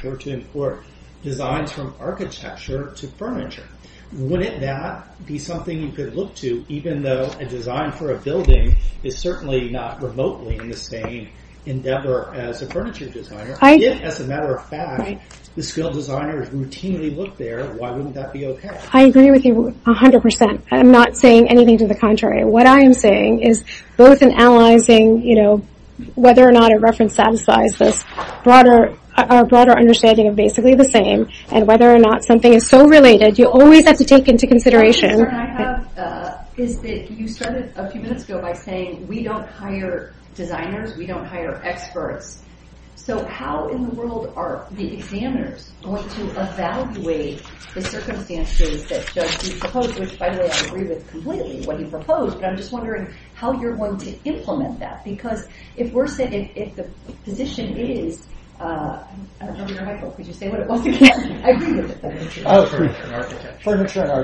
from architecture to furniture. Wouldn't that be something you could look to even though a design for a building is certainly not remotely in the same endeavor as a furniture designer? If, as a matter of fact, the skilled designers routinely look there, why wouldn't that be okay? I agree with you 100%. I'm not saying anything to the contrary. What I am saying is both in analyzing, you know, whether or not a reference satisfies a broader understanding of basically the same and whether or not something is so related, you always have to take into consideration. What I have is that you started a few minutes ago by saying we don't hire designers. We don't hire experts. So how in the world are the examiners going to evaluate the circumstances that you proposed, which, by the way, I agree with completely what you proposed, and I'm just wondering how you're going to implement that. Because if we're saying, if the position is... I don't know where your mic is. I agree with this. Furniture and architecture.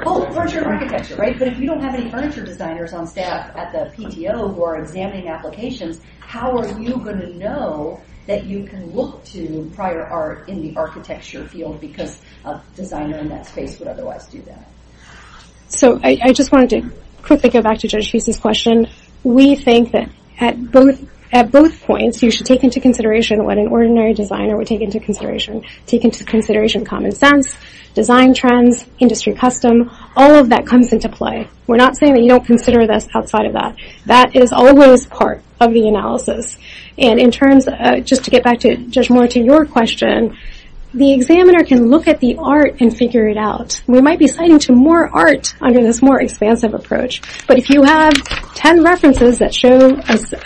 Oh, furniture and architecture, right? But if you don't have any furniture designers on staff at the PTO who are examining applications, how are you going to know that you can look to prior art in the architecture field because a designer in that space would otherwise do that? So I just wanted to quickly go back to Judge Feetley's question. We think that at both points you should take into consideration what an ordinary designer would take into consideration. Take into consideration common sense, design trends, industry custom. All of that comes into play. We're not saying that you don't consider this outside of that. That is always part of the analysis. And in terms of, just to get back, Judge Moore, to your question, the examiner can look at the art and figure it out. We might be citing some more art under this more expansive approach, but if you have ten references that show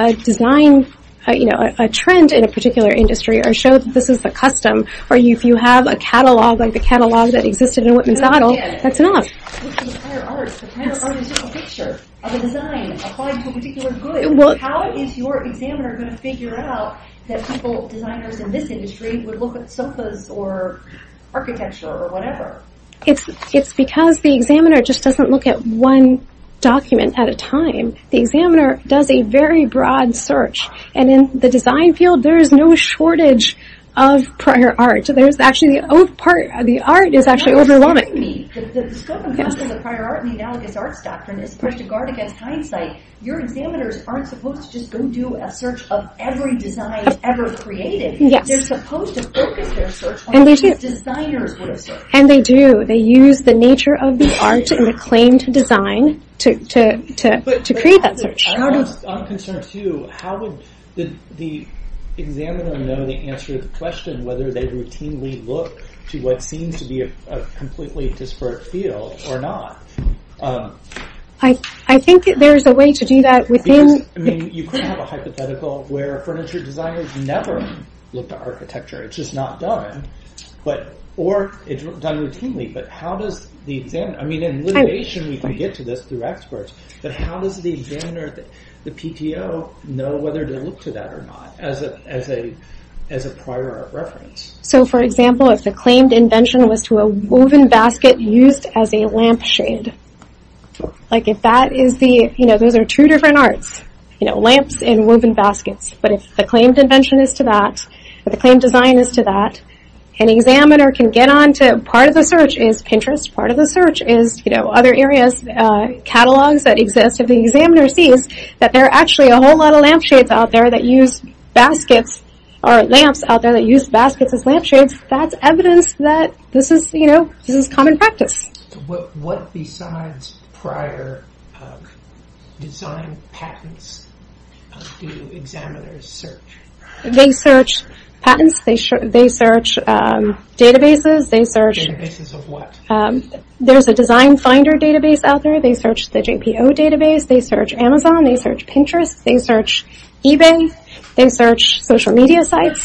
a design, you know, a trend in a particular industry or show that this is a custom or if you have a catalog like the catalog that existed in Wittman's model, that's enough. The prior art is a picture of a design applied to a particular group. How is your examiner going to figure out that people, designers in this industry, would look at surfaces or architecture or whatever? It's because the examiner just doesn't look at one document at a time. The examiner does a very broad search. And in the design field, there is no shortage of prior art. There's actually, the art is actually overwhelming. The scope and function of the prior art in the analogous arts doctrine is disregarded in hindsight. Your examiners aren't supposed to go do a search of every design ever created. They're supposed to focus their search on what designers would have done. And they do. They use the nature of the art and the claim to design to create that search. I'm concerned too. How would the examiner know the answer to the question whether they routinely look to what seems to be a completely disparate field or not? I think there's a way to do that within... I mean, you could have a hypothetical where furniture designers never looked at architecture. It's just not done. Or it's done routinely. But how does the examiner... I mean, in litigation, we can get to this through experts. But how does the examiner, the PTO, know whether to look to that or not as a prior art reference? So, for example, if the claimed invention was to a woven basket used as a lampshade. Like, if that is the... You know, those are two different arts. You know, lamps and woven baskets. But if the claimed invention is to that, if the claimed design is to that, an examiner can get on to... Part of the search is Pinterest. Part of the search is, you know, other areas, catalogs that exist. If the examiner sees that there are actually a whole lot of lampshades out there that use baskets or lamps out there that use baskets as lampshades, that's evidence that this is, you know, common practice. What besides prior design patents do examiners search? They search patents. They search databases. They search... Databases of what? There's a design finder database out there. They search the JPO database. They search Amazon. They search Pinterest. They search eBay. They search social media sites.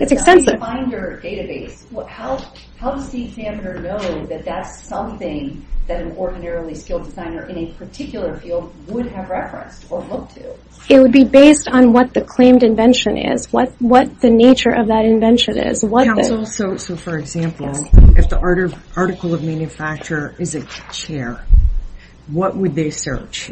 It's extensive. A design finder database. How does the examiner know that that's something that an ordinary field designer in a particular field would have referenced or hoped to? It would be based on what the claimed invention is, what the nature of that invention is. So, for example, if the article of manufacture is a chair, what would they search?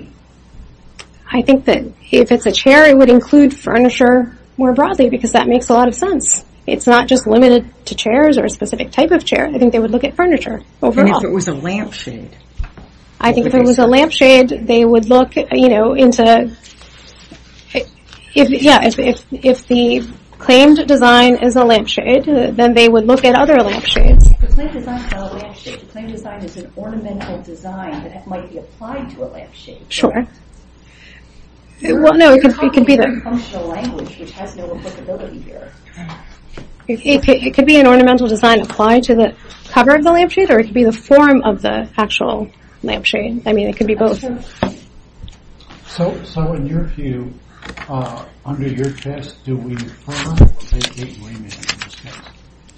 I think that if it's a chair, it would include furniture more broadly because that makes a lot of sense. It's not just limited to chairs or a specific type of chair. I think they would look at furniture overall. What if it was a lampshade? I think if it was a lampshade, they would look, you know, into... Yeah, if the claimed design is a lampshade, then they would look at other lampshades. The claimed design is not a lampshade. The claimed design is an ornamental design that might be applied to a lampshade. Sure. Well, no, it could be the... It could be an ornamental design applied to the cover of the lampshade or it could be the form of the actual lampshade. I mean, it could be both.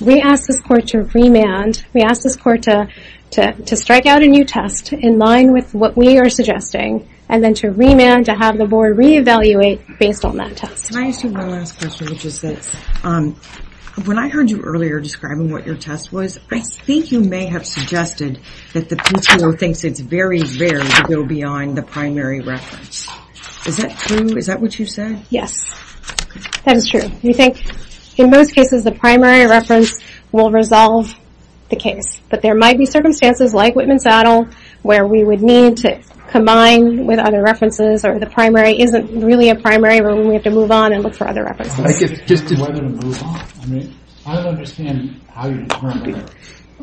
We ask the court to remand. We ask the court to strike out a new test in line with what we are suggesting and then to remand to have the board re-evaluate based on that test. Can I ask you one last question, which is that when I heard you earlier describing what your test was, I think you may have suggested that the PCO thinks it's very, very to go beyond the primary reference. Is that true? Is that what you said? Yes, that is true. We think, in most cases, the primary reference will resolve the case, but there might be circumstances like Whitman-Saddle where we would need to combine with other references or the primary isn't really a primary where we have to move on and look for other references.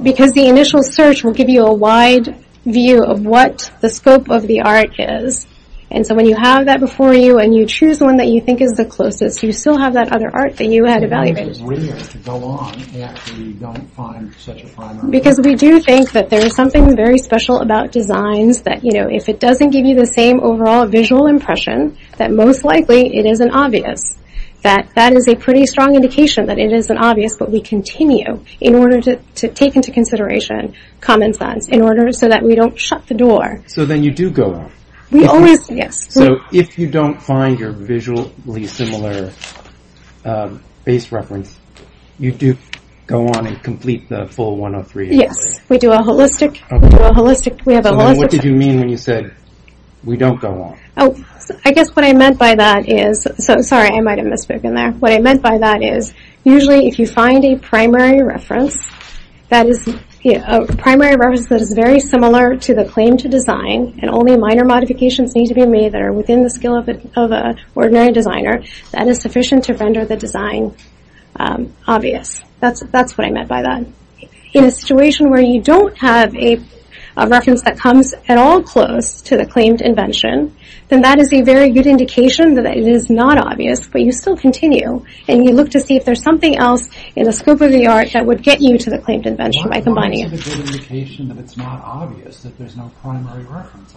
Because the initial search will give you a wide view of what the scope of the art is, and so when you have that before you and you choose one that you think is the closest, you still have that other art that you have evaluated. Why is it weird to go on after you don't find such a primary? Because we do think that there is something very special about designs that, you know, if it doesn't give you the same overall visual impression, that most likely it isn't obvious. That is a pretty strong indication that it isn't obvious, but we continue in order to take into consideration common sense in order so that we don't shut the door. So then you do go on. Yes. So if you don't find your visually similar base reference, you do go on and complete the full 103? Yes, we do a holistic. What did you mean when you said we don't go on? Oh, I guess what I meant by that is, sorry, I might have misspoken there. What I meant by that is usually if you find a primary reference, that is a primary reference that is very similar to the claim to design and only minor modifications need to be made that are within the skill of an ordinary designer that is sufficient to render the design obvious. That's what I meant by that. In a situation where you don't have a reference that comes at all close to the claimed invention, then that is a very good indication that it is not obvious, but you still continue and you look to see if there is something else in the scope of the art that would get you to the claimed invention by combining it. Why is it a good indication that it is not obvious that there is no primary reference?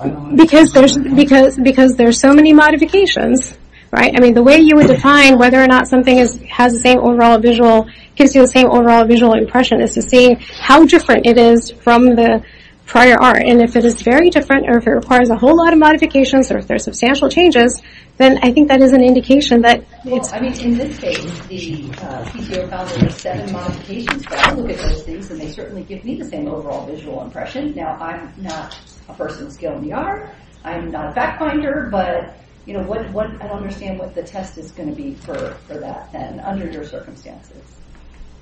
Because there are so many modifications, right? I mean the way you would define whether or not something has the same overall visual, gives you the same overall visual impression is to see how different it is from the prior art. And if it is very different or if it requires a whole lot of modifications or if there are substantial changes, then I think that is an indication that... Well, I mean in this case, the CEO found there were seven modifications, but I look at those things and they certainly give me the same overall visual impression. Now I'm not a person of skill in the art, I'm not a fact finder, but what is going to be the test for that then, under your circumstances?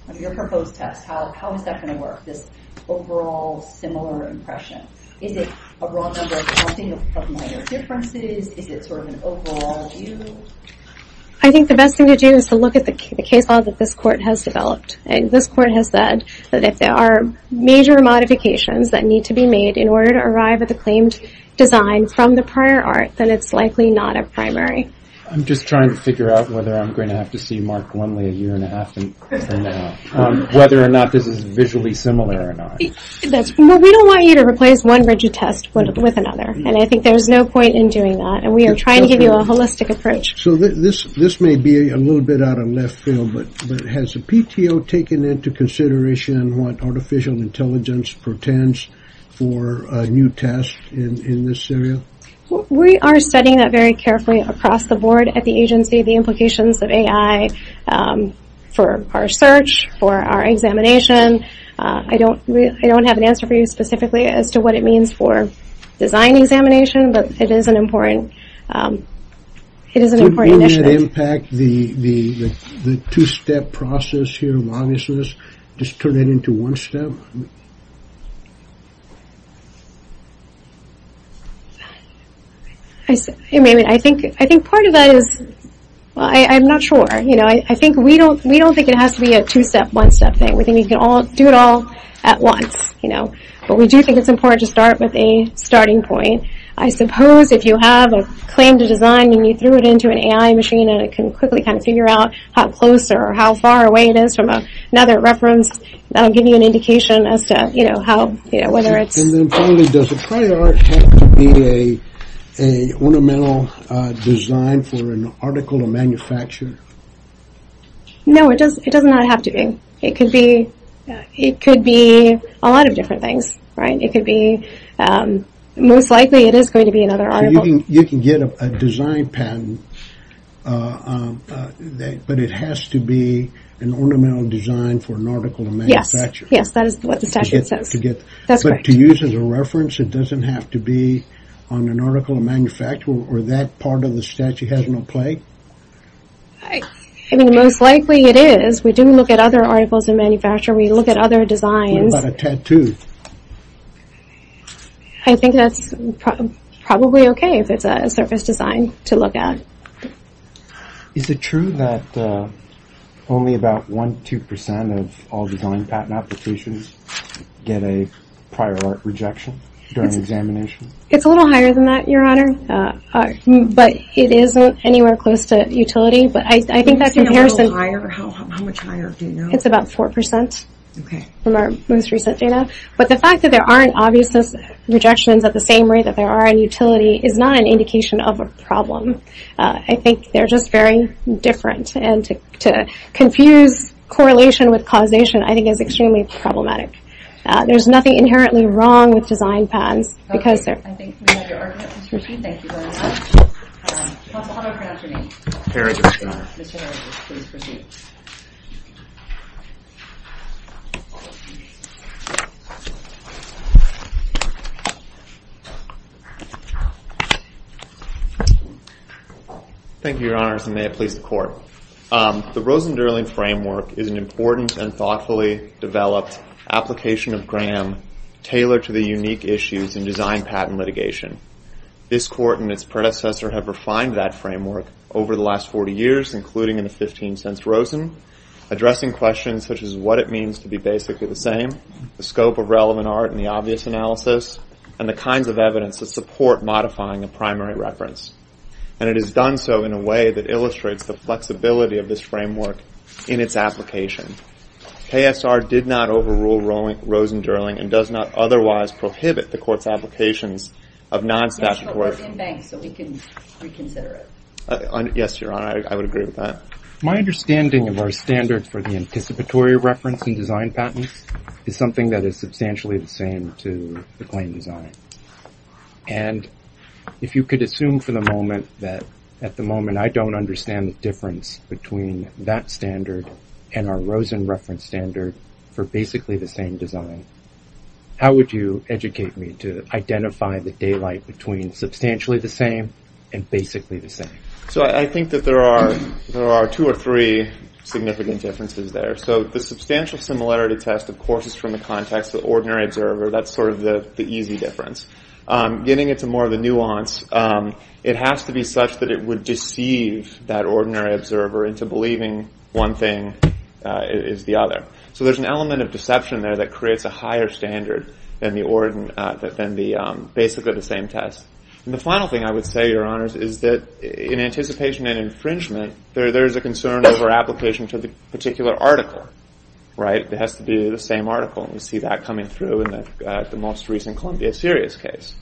Under your proposed test, how is that going to work, this overall similar impression? Is it a wrong number, something with minor differences, is it sort of an overall view? I think the best thing to do is to look at the case law that this court has developed. This court has said that if there are major modifications that need to be made in order to arrive at the claimed design from the prior art, then it's likely not a primary. I'm just trying to figure out whether I'm going to have to see Mark Lumley a year and a half from now, whether or not this is visually similar or not. We don't want you to replace one RGGI test with another, and I think there's no point in doing that. We are trying to give you a holistic approach. This may be a little bit out of left field, but has the PTO taken into consideration what artificial intelligence portends for a new test in this area? We are studying that very carefully across the board at the agency, the implications of AI for our search, for our examination. I don't have an answer for you specifically as to what it means for design examination, but it is an important issue. Do you know what would impact the two-step process here, just turn it into one step? I think part of that is I'm not sure. I think we don't think it has to be a two-step, one-step thing. We think we can do it all at once. But we do think it's important to start with a starting point. I suppose if you have a claim to design and you threw it into an AI machine and it can quickly kind of figure out how close or how far away it is from another reference, give you an indication as to whether it's... And then finally, does it have to be an ornamental design for an article of manufacture? No, it does not have to be. It could be a lot of different things, right? It could be most likely it is going to be another article. You can get a design patent, but it has to be an ornamental design for an article of manufacture. Yes, that is what the statute says. But to use as a reference, it doesn't have to be on an article of manufacture or that part of the statute has no play? Most likely it is. We do look at other articles of manufacture. We look at other designs. What about a tattoo? I think that's probably okay if it's a surface design to look at. Is it true that only about 1-2% of all design patent applications get a prior rejection during examination? It's a little higher than that, Your Honor, but it isn't anywhere close to utility. How much higher do you know? It's about 4% from our most recent data. But the fact that there aren't obvious rejections at the same rate that there are in utility is not an indication of a problem. I think they're just very different. And to confuse correlation with causation, I think, is extremely problematic. There's nothing inherently wrong with design patents. Okay, I think we have your argument. We'll proceed. Thank you very much. I'll autograph your name. Thank you, Your Honors, and may it please the Court. The Rosen-Durling Framework is an important and thoughtfully developed application of GRAM tailored to the unique issues in design patent litigation. This Court and its predecessor have refined that framework over the last 40 years, including in the 15th sense Rosen, addressing questions such as what it means to be basically the same, the scope of relevant art and the obvious analysis, and the kinds of evidence to support modifying the primary reference. And it has done so in a way that illustrates the flexibility of this framework in its application. KSR did not overrule Rosen-Durling and does not otherwise prohibit the Court's application of non-staffed work. We can reconsider it. Yes, Your Honor, I would agree with that. My understanding of our standards for the anticipatory reference in design patents is something that is substantially the same to the claim design. And if you could assume for the moment that, at the moment, I don't understand the difference between that standard and our Rosen reference standard for basically the same design, how would you educate me to identify the daylight between substantially the same and basically the same? So I think that there are two or three significant differences there. So the substantial similarity test, of course, is from the context of the ordinary observer. That's sort of the easy difference. Getting into more of the nuance, it has to be such that it would deceive that ordinary observer into believing one thing is the other. So there's an element of deception there that creates a higher standard than basically the same test. And the final thing I would say, Your Honors, is that in anticipation and infringement, there is a concern over application for the particular article. It has to be the same article. And we see that coming through in the most recent Columbia Sirius case.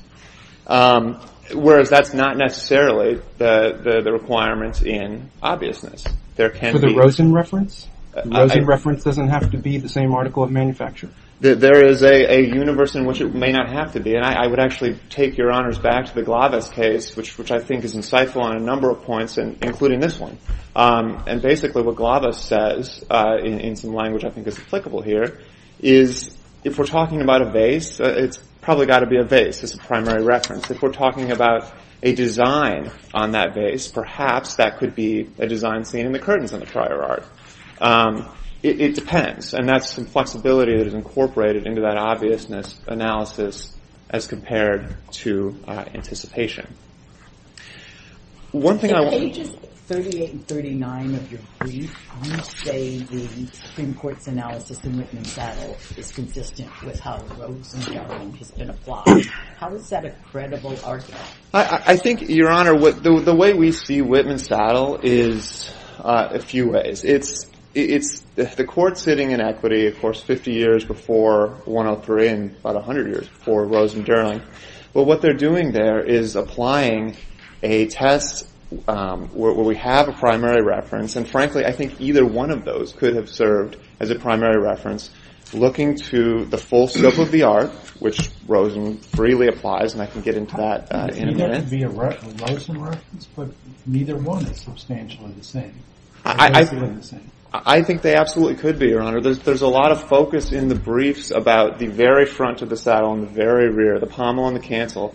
Whereas that's not necessarily the requirement in obviousness. For the Rosen reference? The Rosen reference doesn't have to be the same article of manufacture? There is a universe in which it may not have to be. And I would actually take Your Honors back to the Glavis case, which I think is insightful on a number of points, including this one. And basically what Glavis says, in some language I think is applicable here, is if we're talking about a vase, it's probably got to be a vase. It's a primary reference. If we're talking about a design on that vase, perhaps that could be a design seen in the curtains in the trier art. It depends. And that's some flexibility that is incorporated into that obviousness analysis as compared to anticipation. In pages 38 and 39 of your brief, you say the Supreme Court's analysis in Whitman-Saddle is consistent with how Rosen journaling has been applied. How is that a credible article? I think, Your Honor, the way we see Whitman-Saddle is a few ways. It's the court sitting in equity, of course, 50 years before 103 and about 100 years before Rosen journaling. But what they're doing there is applying a test where we have a primary reference, and frankly I think either one of those could have served as a primary reference, looking to the full scope of the art, which Rosen freely applies, and I can get into that in a minute. Neither could be a Rosen reference, but neither one is substantially the same. I think they absolutely could be, Your Honor. There's a lot of focus in the briefs about the very front of the saddle and the very rear, the pommel and the cancel,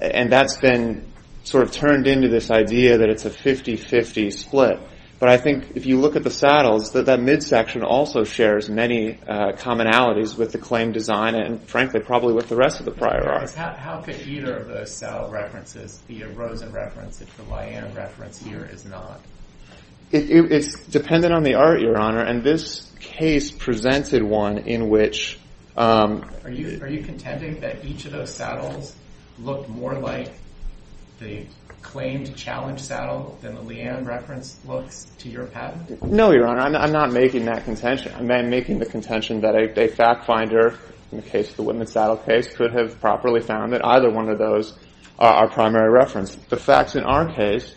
and that's been sort of turned into this idea that it's a 50-50 split. But I think if you look at the saddles, that midsection also shares many commonalities with the claim design and, frankly, probably with the rest of the prior art. How could either of the saddle references be a Rosen reference if the YM reference here is not? It's dependent on the art, Your Honor, and this case presented one in which Are you contending that each of those saddles look more like the claimed challenge saddle than the Leanne reference look to your patent? No, Your Honor. I'm not making that contention. I'm making the contention that a fact finder, in the case of the Wittman saddle case, could have properly found that either one of those are our primary reference. The facts in our case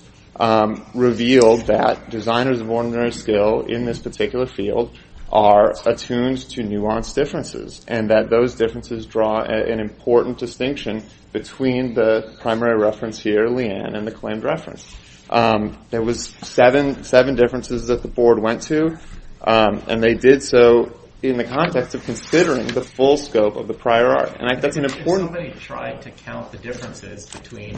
revealed that designers of ordinary skill in this particular field are attuned to nuanced differences and that those differences draw an important distinction between the primary reference here, Leanne, and the claimed reference. There was seven differences that the board went to, and they did so in the context of considering the full scope of the prior art. And I think an important If somebody tried to count the differences between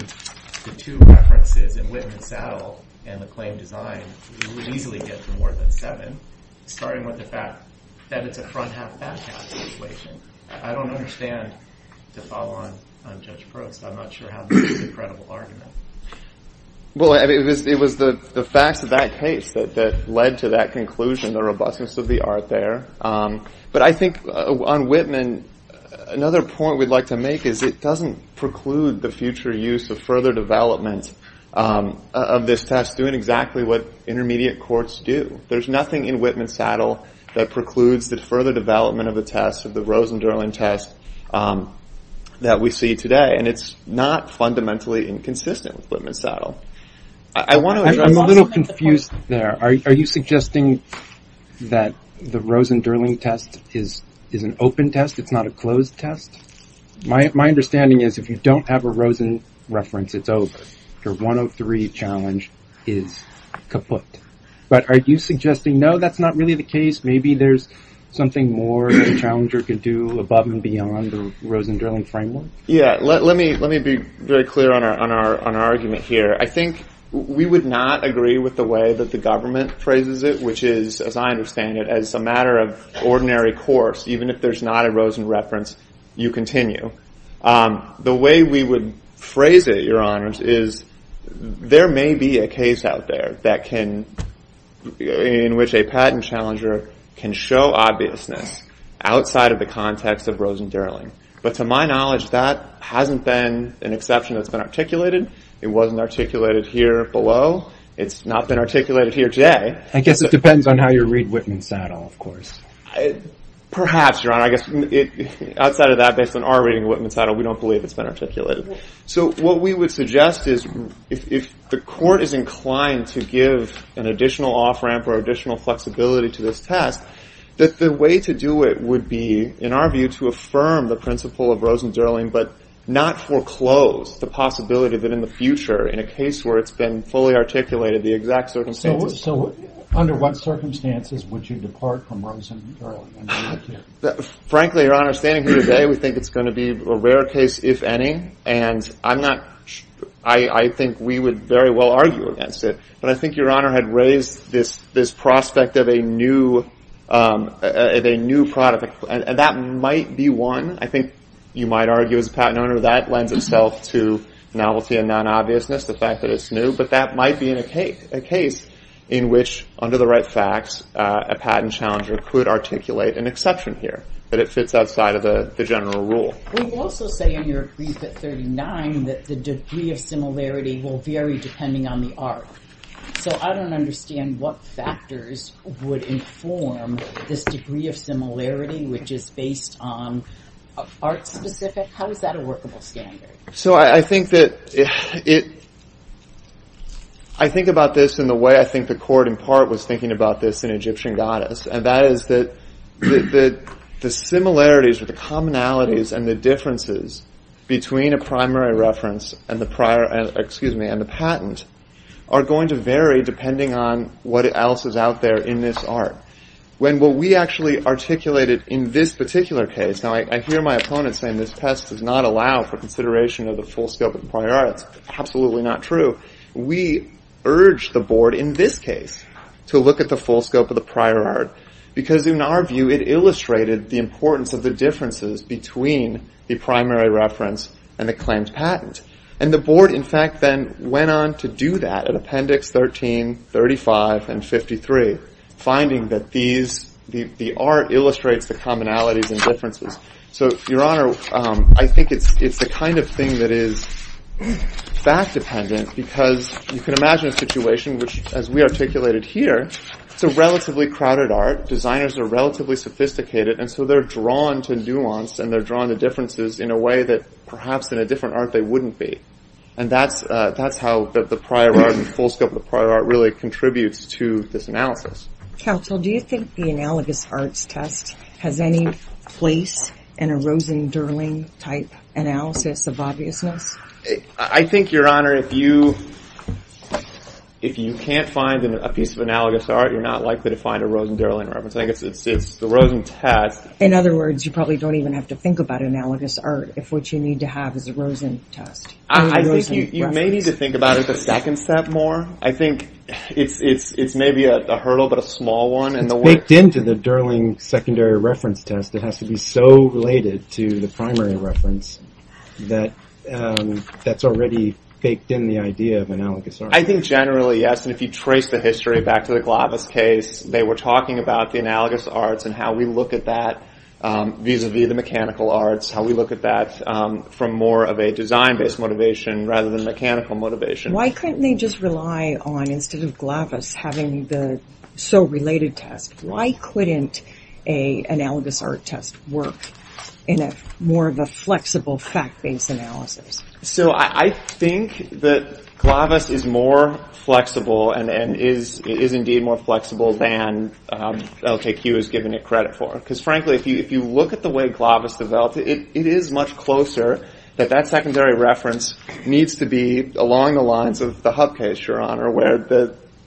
the two references, the Wittman saddle and the claimed design, you would easily get to more than seven, starting with the fact that it's a front half back half situation. I don't understand the follow-on on Judge Brooks. I'm not sure how that's a credible argument. Well, it was the fact of that case that led to that conclusion, the robustness of the art there. But I think on Wittman, another point we'd like to make is it doesn't preclude the future use of further development of this test doing exactly what intermediate courts do. There's nothing in Wittman saddle that precludes the further development of a test, of the Rosen-Durling test that we see today, and it's not fundamentally inconsistent with Wittman saddle. I'm a little confused there. Are you suggesting that the Rosen-Durling test is an open test, it's not a closed test? My understanding is if you don't have a Rosen reference, it's open. Your 103 challenge is kaput. But are you suggesting, no, that's not really the case, maybe there's something more the challenger could do above and beyond the Rosen-Durling framework? Yeah, let me be very clear on our argument here. I think we would not agree with the way that the government phrases it, which is, as I understand it, as a matter of ordinary course, even if there's not a Rosen reference, you continue. The way we would phrase it, Your Honors, is there may be a case out there in which a patent challenger can show obviousness outside of the context of Rosen-Durling. But to my knowledge, that hasn't been an exception that's been articulated. It wasn't articulated here below. It's not been articulated here today. I guess it depends on how you read Wittman saddle, of course. Perhaps, Your Honor, I guess outside of that, based on our reading of Wittman saddle, we don't believe it's been articulated. So what we would suggest is if the court is inclined to give an additional off-ramp or additional flexibility to this test, that the way to do it would be, in our view, to affirm the principle of Rosen-Durling but not foreclose the possibility that in the future, in a case where it's been fully articulated, the exact circumstances... Frankly, Your Honor, standing here today, we think it's going to be a rare case, if any. And I think we would very well argue against it. But I think Your Honor had raised this prospect of a new product. And that might be one. I think you might argue as a patent owner that lends itself to novelty and non-obviousness, the fact that it's new. But that might be a case in which, under the right facts, a patent challenger could articulate an exception here, that it sits outside of the general rule. We also say in your brief at 39 that the degree of similarity will vary depending on the art. So I don't understand what factors would inform this degree of similarity, which is based on art specifics. How is that a workable standard? So I think that it... I think about this in the way I think the Court in part was thinking about this in Egyptian Goddess. And that is that the similarities or the commonalities and the differences between a primary reference and the patent are going to vary depending on what else is out there in this art. When will we actually articulate it in this particular case? I hear my opponent saying this test does not allow for consideration of the full scope of the prior art. That's absolutely not true. We urge the Board in this case to look at the full scope of the prior art because in our view it illustrated the importance of the differences between the primary reference and the claims patent. And the Board, in fact, then went on to do that in Appendix 13, 35, and 53, finding that the art illustrates the commonalities and differences. So, Your Honor, I think it's the kind of thing that is fact-dependent because you can imagine a situation which, as we articulated here, the relatively crowded art, designers are relatively sophisticated, and so they're drawn to nuance and they're drawn to differences in a way that perhaps in a different art they wouldn't be. And that's how the prior art, the full scope of the prior art, really contributes to this analysis. Counsel, do you think the analogous arts test has any place in a Rosen-Derling type analysis of obviousness? I think, Your Honor, if you can't find a piece of analogous art, you're not likely to find a Rosen-Derling art. In other words, you probably don't even have to think about analogous art if what you need to have is a Rosen test. I think you may need to think about it as a second step more. I think it's maybe a hurdle, but a small one. It's baked into the Derling secondary reference test. It has to be so related to the primary reference that that's already baked in the idea of analogous art. I think generally, yes. And if you trace the history back to the Glavis case, they were talking about the analogous arts and how we look at that vis-à-vis the mechanical arts, how we look at that from more of a design-based motivation rather than mechanical motivation. Why couldn't they just rely on, instead of Glavis, having the so-related test? Why couldn't an analogous art test work in more of a flexible fact-based analysis? I think that Glavis is more flexible and is indeed more flexible than LKQ has given it credit for. Because, frankly, if you look at the way Glavis developed it, it is much closer that that secondary reference needs to be along the lines of the Hub case, Your Honor, where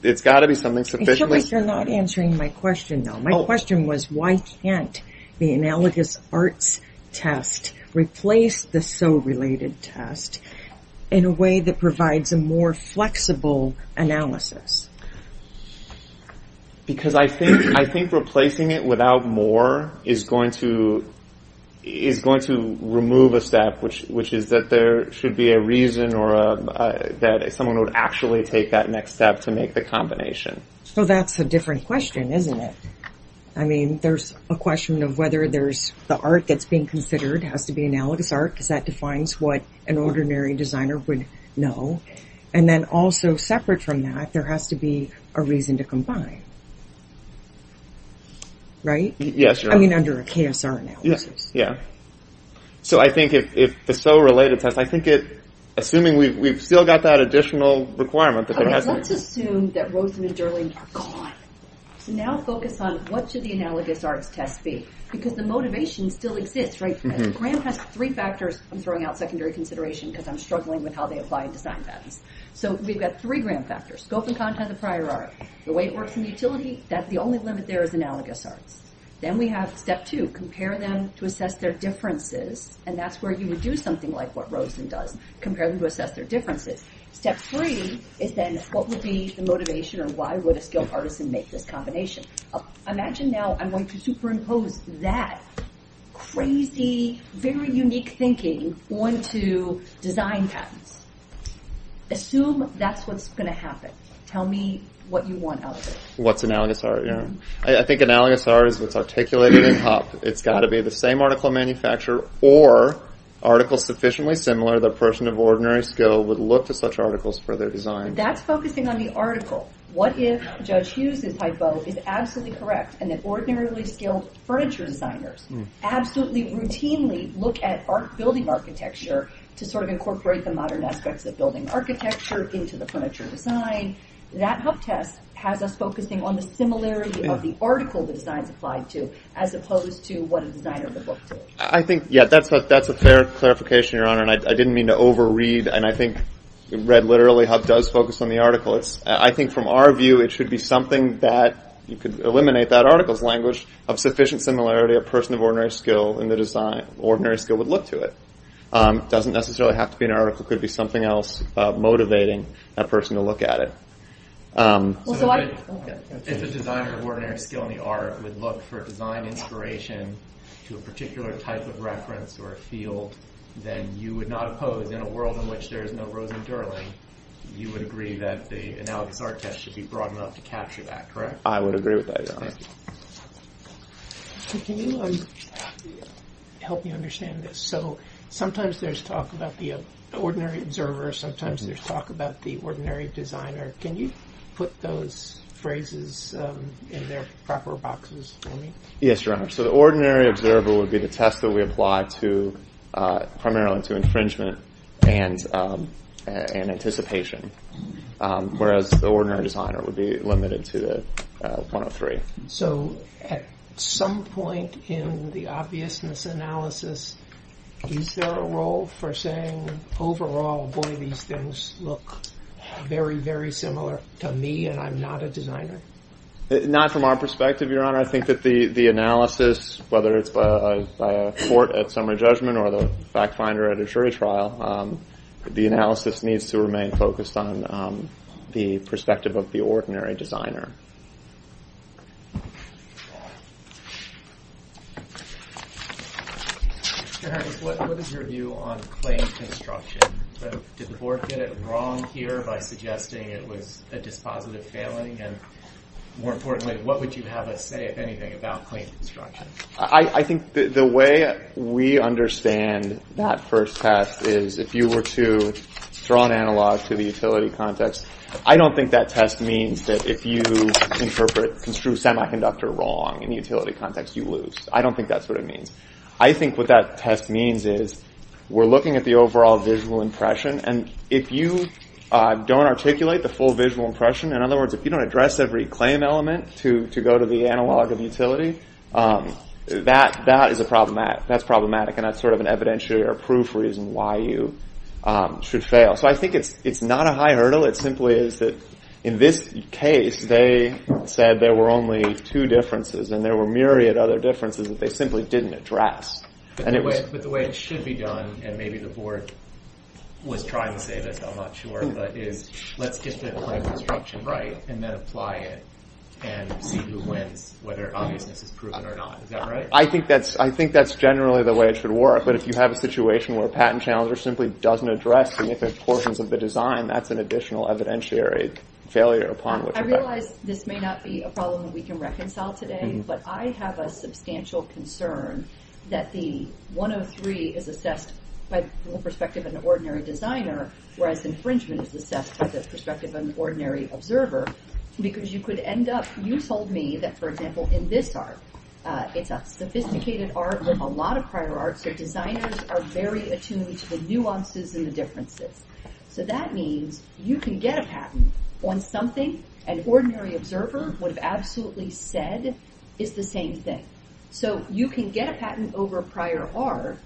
it's got to be something sufficiently- It's just like you're not answering my question, though. My question was, why can't the analogous arts test replace the so-related test in a way that provides a more flexible analysis? Because I think replacing it without more is going to remove a step, which is that there should be a reason that someone would actually take that next step to make the combination. So that's a different question, isn't it? I mean, there's a question of whether the art that's being considered has to be analogous art, because that defines what an ordinary designer would know. And then also, separate from that, there has to be a reason to combine. Right? Yes, Your Honor. I mean, under a KSR analysis. Yeah. So I think if the so-related test- Assuming we've still got that additional requirement- Okay, let's assume that Rosemary Durling- God. Now focus on, what should the analogous arts test be? Because the motivation still exists, right? Graham has three factors in throwing out secondary consideration, because I'm struggling with how they apply in design practice. So we've got three Graham factors. Scope and content of prior art. The way it works in the utility. That's the only one that's there is analogous art. Then we have step two. Compare them to assess their differences, and that's where you would do something like what Rosemary does. Compare them to assess their differences. Step three is then, what would be the motivation, and why would a skilled artisan make this combination? Imagine now I'm going to superimpose that crazy, very unique thinking onto design practice. Assume that's what's going to happen. Tell me what you want out of it. What's analogous art, yeah. I think analogous art is articulated in pop. It's got to be the same article manufacturer or article sufficiently similar that a person of ordinary skill would look at such articles for their design. That's focusing on the article. What if Judge Hughes' typo is absolutely correct, and that ordinarily skilled furniture designers absolutely routinely look at building architecture to sort of incorporate the modern aspects of building architecture into the furniture design. That HUB test has us focusing on the similarity of the article the design applied to, as opposed to what a designer would look for. I think, yeah, that's a fair clarification, Your Honor, and I didn't mean to over-read, and I think read literally HUB does focus on the article. I think from our view it should be something that could eliminate that article's language of sufficient similarity a person of ordinary skill in the design, ordinary skill would look to it. It doesn't necessarily have to be an article. It could be something else motivating a person to look at it. If a designer of ordinary skill in the art would look for design inspiration to a particular type of reference or a field, then you would not oppose, in a world in which there is no Rosemary Durling, you would agree that the analogous art test should be broad enough to capture that, correct? I would agree with that, Your Honor. Can you help me understand this? So sometimes there's talk about the ordinary observer, sometimes there's talk about the ordinary designer. Can you put those phrases in their proper boxes for me? Yes, Your Honor. So the ordinary observer would be the test that we apply primarily to infringement and anticipation, whereas the ordinary designer would be limited to the final three. So at some point in the obviousness analysis, do you fill a role for saying overall, boy, these things look very, very similar to me and I'm not a designer? Not from our perspective, Your Honor. I think that the analysis, whether it's by a court at summer judgment or the fact finder at a jury trial, the analysis needs to remain focused on the perspective of the ordinary designer. Your Honor, what is your view on claims construction? Did the board get it wrong here by suggesting it was a dispositive failing? And more importantly, what would you have us say, if anything, about claims construction? I think the way we understand that first test is if you were to throw an analog to the utility context, I don't think that test means that if you interpret construed semiconductor wrong in the utility context, you lose. I don't think that's what it means. I think what that test means is we're looking at the overall visual impression. And if you don't articulate the full visual impression, in other words, if you don't address every claim element to go to the analog of utility, that is problematic. And that's sort of an evidentiary proof reason why you should fail. So I think it's not a high hurdle. It simply is that in this case, they said there were only two differences and there were myriad other differences that they simply didn't address. But the way it should be done, and maybe the board was trying to say that's how much it's worth, is let's just get a claim construction right and then apply it and you win, whether or not it's proven or not. Is that right? I think that's generally the way it should work. But if you have a situation where a patent challenger simply doesn't address significant portions of the design, that's an additional evidentiary failure upon which to fail. I realize this may not be a problem that we can reconcile today, but I have a substantial concern that the 103 is assessed by the perspective of an ordinary designer, whereas infringement is assessed by the perspective of an ordinary observer. Because you could end up, you told me that, for example, in this art, it's a sophisticated art with a lot of prior art, but designers are very attuned to the nuances and the differences. So that means you can get a patent on something an ordinary observer would have absolutely said is the same thing. So you can get a patent over prior art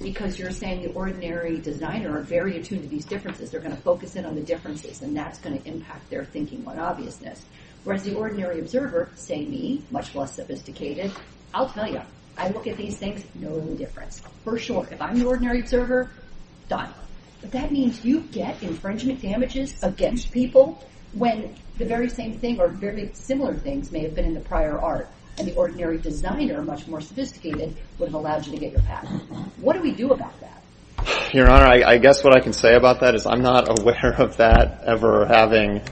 because you're saying the ordinary designer are very attuned to these differences. They're going to focus in on the differences and that's going to impact their thinking on obviousness. Whereas the ordinary observer, say me, much less sophisticated, I'll tell you, I look at these things and know the difference. For sure, if I'm the ordinary observer, done. That means you get infringement damages against people when the very same thing or very similar things may have been in the prior art. And the ordinary designer, much more sophisticated, would have allowed you to get your patent. What do we do about that? Your Honor, I guess what I can say about that is I'm not aware of that ever having,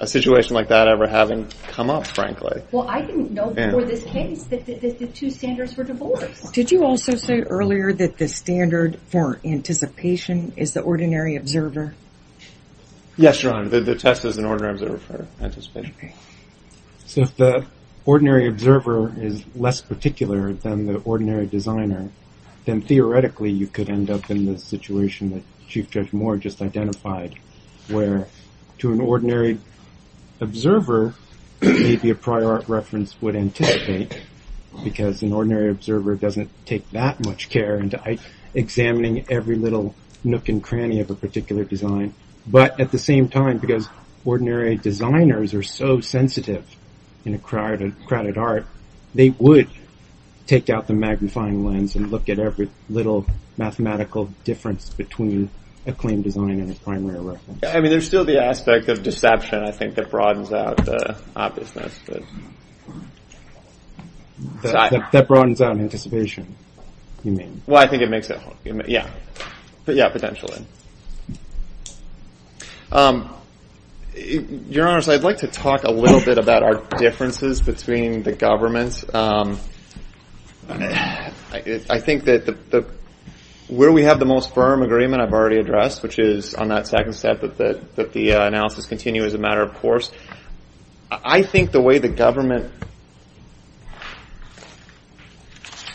a situation like that ever having come up, frankly. Well, I didn't know before this came that this is two standards for divorce. Did you also say earlier that the standard for anticipation is the ordinary observer? Yes, Your Honor, the test is an ordinary observer for anticipation. So if the ordinary observer is less particular than the ordinary designer, then theoretically you could end up in the situation that Chief Judge Moore just identified. Where to an ordinary observer, maybe a prior art reference would anticipate. Because an ordinary observer doesn't take that much care in examining every little nook and cranny of a particular design. But at the same time, because ordinary designers are so sensitive in a crowded art, they would take out the magnifying lens and look at every little mathematical difference between a claimed design and its primary reference. I mean, there's still the aspect of deception, I think, that broadens out the obviousness. That broadens out anticipation, you mean? Well, I think it makes sense. Yeah, potentially. Your Honor, so I'd like to talk a little bit about our differences between the government. I think that where we have the most firm agreement, I've already addressed, which is on that second step that the analysis continues as a matter of course. I think the way the government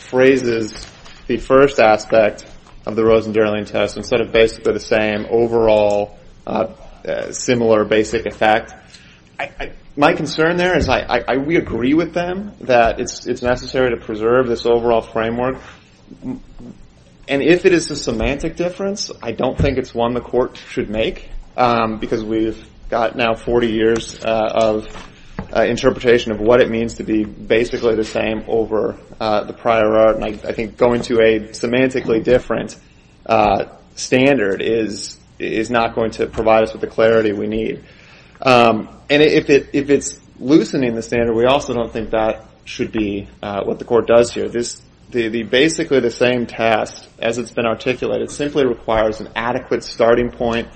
phrases the first aspect of the Rosenberlin test, instead of basically the same overall similar basic effect, my concern there is we agree with them that it's necessary to preserve this overall framework. And if it is a semantic difference, I don't think it's one the court should make, because we've got now 40 years of interpretation of what it means to be basically the same over the prior art. And I think going to a semantically different standard is not going to provide us with the clarity we need. And if it's loosening the standard, we also don't think that should be what the court does here. So basically the same test, as it's been articulated, simply requires an adequate starting point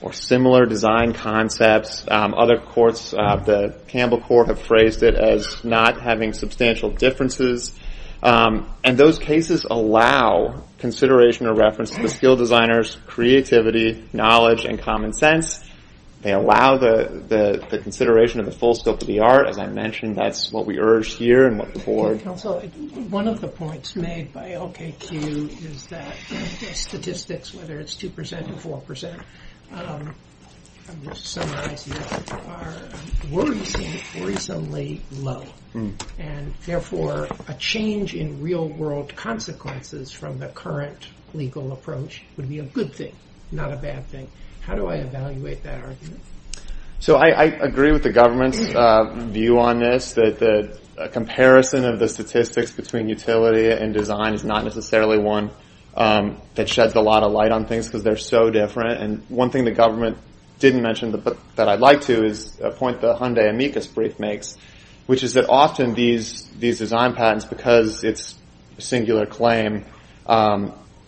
or similar design concepts. Other courts, the Campbell Court, have phrased it as not having substantial differences. And those cases allow consideration or reference to the skill designers' creativity, knowledge, and common sense. They allow the consideration of the full scope of the art. As I mentioned, that's what we urge here and what the board. One of the points made by LKQ is that statistics, whether it's 2% or 4%, are reasonably low. And therefore a change in real world consequences from the current legal approach would be a good thing, not a bad thing. How do I evaluate that argument? So I agree with the government's view on this. The comparison of the statistics between utility and design is not necessarily one that sheds a lot of light on things because they're so different. And one thing the government didn't mention that I'd like to is a point that Hyundai Amicus brief makes, which is that often these design patents, because it's a singular claim,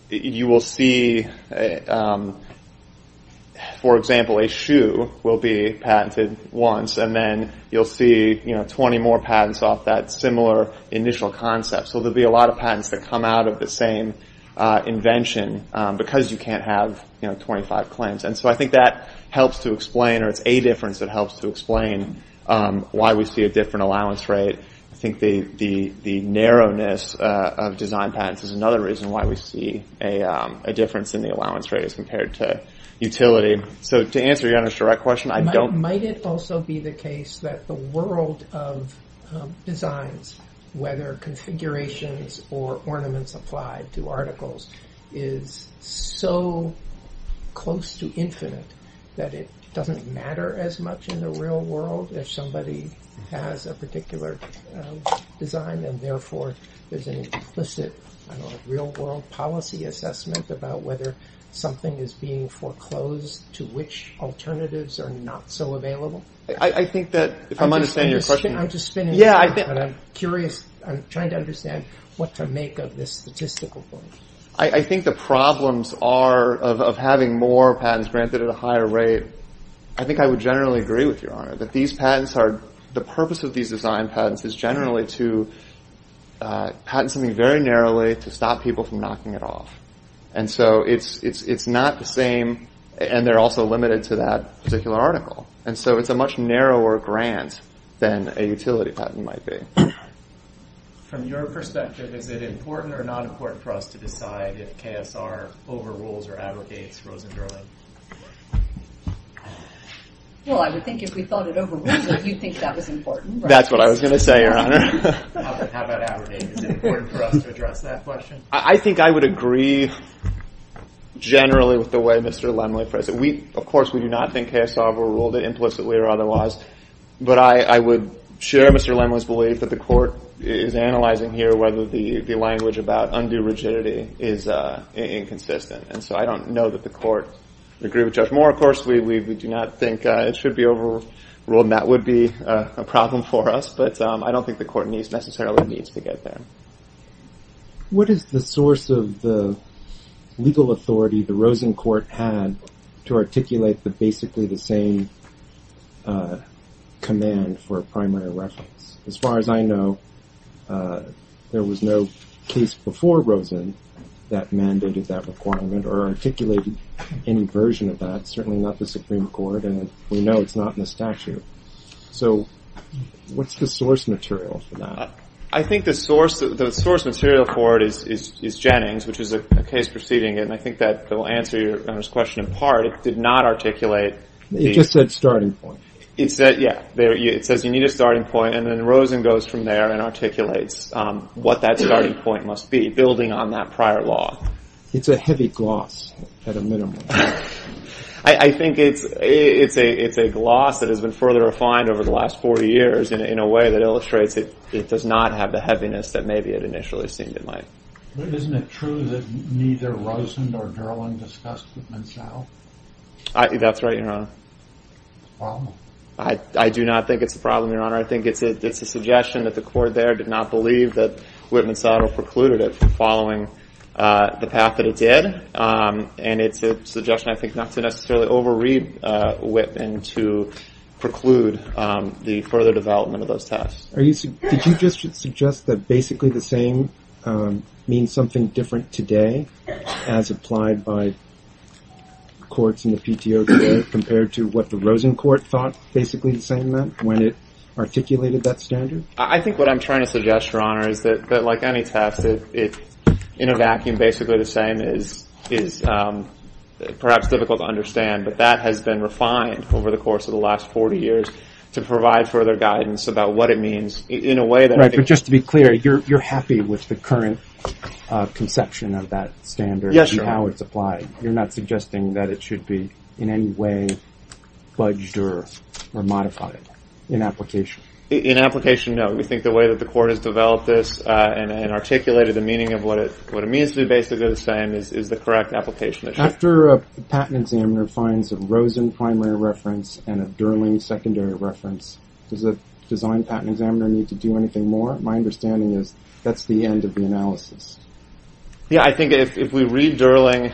you will see, for example, a shoe will be patented once, and then you'll see 20 more patents off that similar initial concept. So there'll be a lot of patents that come out of the same invention because you can't have 25 claims. And so I think that helps to explain, or it's a difference that helps to explain, why we see a different allowance rate. I think the narrowness of design patents is another reason why we see a difference in the allowance rate as compared to utility. So to answer your question, I don't... Might it also be the case that the world of designs, whether configurations or ornaments applied to articles, is so close to infinite that it doesn't matter as much in the real world if somebody has a particular design and therefore there's an implicit real-world policy assessment about whether something is being foreclosed to which alternatives are not so available? I think that, if I'm understanding your question... I'm just spinning it around, but I'm curious, I'm trying to understand what to make of this statistical point. I think the problems are, of having more patents granted at a higher rate, I think I would generally agree with you on it, but the purpose of these design patents is generally to patent something very narrowly to stop people from knocking it off. And so it's not the same, and they're also limited to that particular article. And so it's a much narrower grant than a utility patent might be. From your perspective, is it important or not important for us to decide if KSR overrules or abrogates Rosenberg? Well, I would think if we thought it over, we'd think that was important. That's what I was going to say, Your Honor. How about abrogating? Is it important for us to address that question? I think I would agree generally with the way Mr. Lindley phrased it. Of course, we do not think KSR overruled it implicitly or otherwise, but I would share Mr. Lindley's belief that the court is analyzing here whether the language about undue rigidity is inconsistent. And so I don't know that the court would agree with Judge Moore. Of course, we do not think it should be overruled, and that would be a problem for us, but I don't think the court necessarily needs to get there. What is the source of the legal authority the Rosen court had to articulate basically the same command for a primary reference? As far as I know, there was no case before Rosen that mandated that requirement or articulated any version of that, certainly not the Supreme Court, and we know it's not in the statute. So what's the source material for that? I think the source material for it is Jennings, which is a case proceeding, and I think that will answer Your Honor's question in part. It did not articulate... It just said starting point. It said, yeah, it says you need a starting point, and then Rosen goes from there and articulates what that starting point must be, building on that prior law. It's a heavy gloss at a minimum. I think it's a gloss that has been further refined over the last 40 years in a way that illustrates it does not have the heaviness that maybe it initially seemed it might. But isn't it true that neither Rosen nor Gerland discussed it themselves? That's right, Your Honor. I do not think it's a problem, Your Honor. I think it's a suggestion that the court there did not believe that Whitman's daughter precluded it from following the path that it did, and it's a suggestion I think not to necessarily over-read Whitman to preclude the further development of those tests. Did you just suggest that basically the same means something different today as applied by courts in the PTO today compared to what the Rosen court thought basically the same meant when it articulated that standard? I think what I'm trying to suggest, Your Honor, is that like any test, it's in a vacuum basically the same. It's perhaps difficult to understand, but that has been refined over the course of the last 40 years to provide further guidance about what it means in a way that... In fact, just to be clear, you're happy with the current conception of that standard and how it's applied. You're not suggesting that it should be in any way budged or modified in application? In application, no. We think the way that the court has developed this and articulated the meaning of what it means to be basically the same is the correct application. After a patent examiner finds a Rosen primary reference and a Gerland secondary reference, does the design patent examiner need to do anything more? My understanding is that's the end of the analysis. Yeah, I think if we read Gerland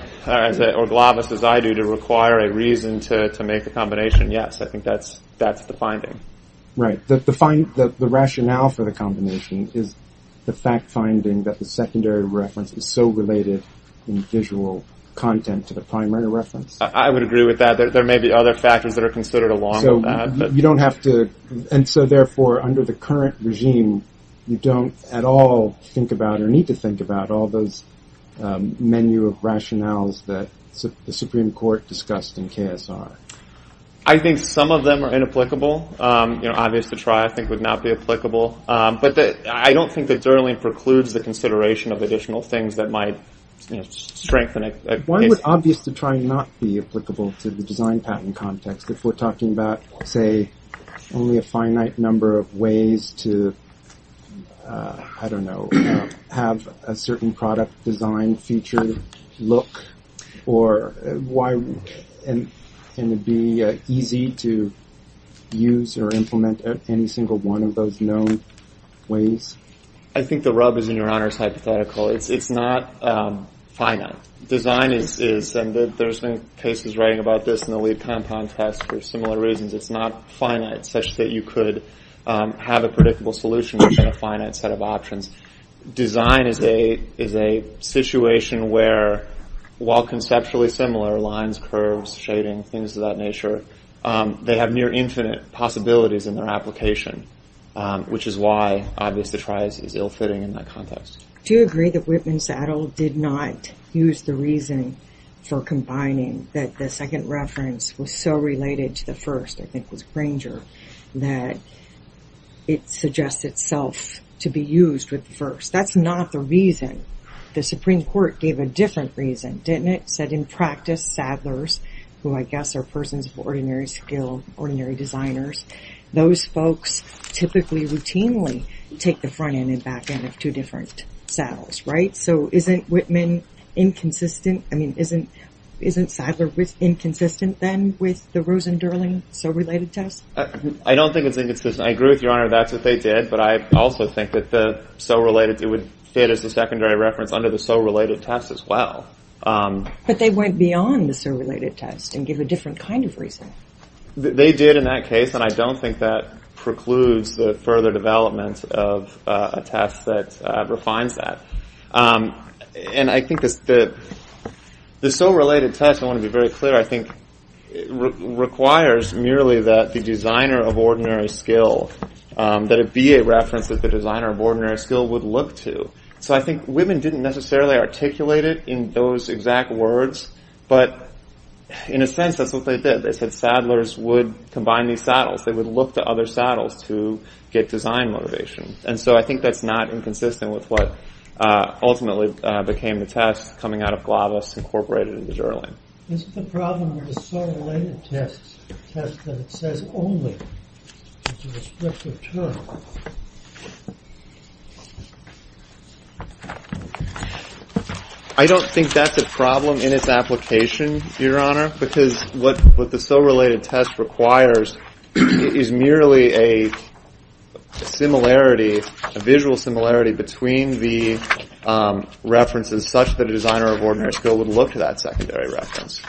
or Glavis as I do to require a reason to make a combination, yes. I think that's the finding. Right, the rationale for the combination is the fact finding that the secondary reference is so related in visual content to the primary reference. I would agree with that. There may be other factors that are considered along with that. And so, therefore, under the current regime, you don't at all think about or need to think about all those menu of rationales that the Supreme Court discussed in KSR. I think some of them are inapplicable. Obvious to try I think would not be applicable. But I don't think that Gerland precludes the consideration of additional things that might strengthen it. Why would obvious to try not be applicable to the design patent context if we're talking about, say, only a finite number of ways to, I don't know, have a certain product design feature look? Or why wouldn't it be easy to use or implement any single one of those known ways? I think the rub is in Your Honor's hypothetical. It's not finite. Design is, and there's been cases right about this in the lead compound test for similar reasons. It's not finite such that you could have a predictable solution within a finite set of options. Design is a situation where, while conceptually similar, lines, curves, shading, things of that nature, they have near infinite possibilities in their application, which is why obvious to try is ill-fitting in that context. Do you agree that Whitman Saddle did not use the reason for combining that the second reference was so related to the first, I think it was Granger, that it suggests itself to be used with the first? That's not the reason. The Supreme Court gave a different reason, didn't it, that in practice Saddlers, who I guess are persons of ordinary skill, ordinary designers, those folks typically routinely take the front end and back end of two different saddles, right? So isn't Whitman inconsistent? I mean, isn't Saddler inconsistent then with the Rosen-Durling so related test? I don't think it's inconsistent. I agree with Your Honor that they did, but I also think that it would fit as a secondary reference under the so related test as well. But they went beyond the so related test and gave a different kind of reason. They did in that case, and I don't think that precludes the further development of a test that refines that. And I think the so related test, I want to be very clear, I think requires merely that the designer of ordinary skill, that it be a reference that the designer of ordinary skill would look to. So I think Whitman didn't necessarily articulate it in those exact words, but in a sense that's what they did. They said Saddlers would combine these saddles. They would look to other saddles to get design motivation. And so I think that's not inconsistent with what ultimately became the test coming out of Glavos Incorporated and the Durling. Is the problem with the so related test that it says only in the descriptive term? I don't think that's a problem in its application, Your Honor, because what the so related test requires is merely a similarity, a visual similarity, between the references such that a designer of ordinary skill would look to that secondary reference.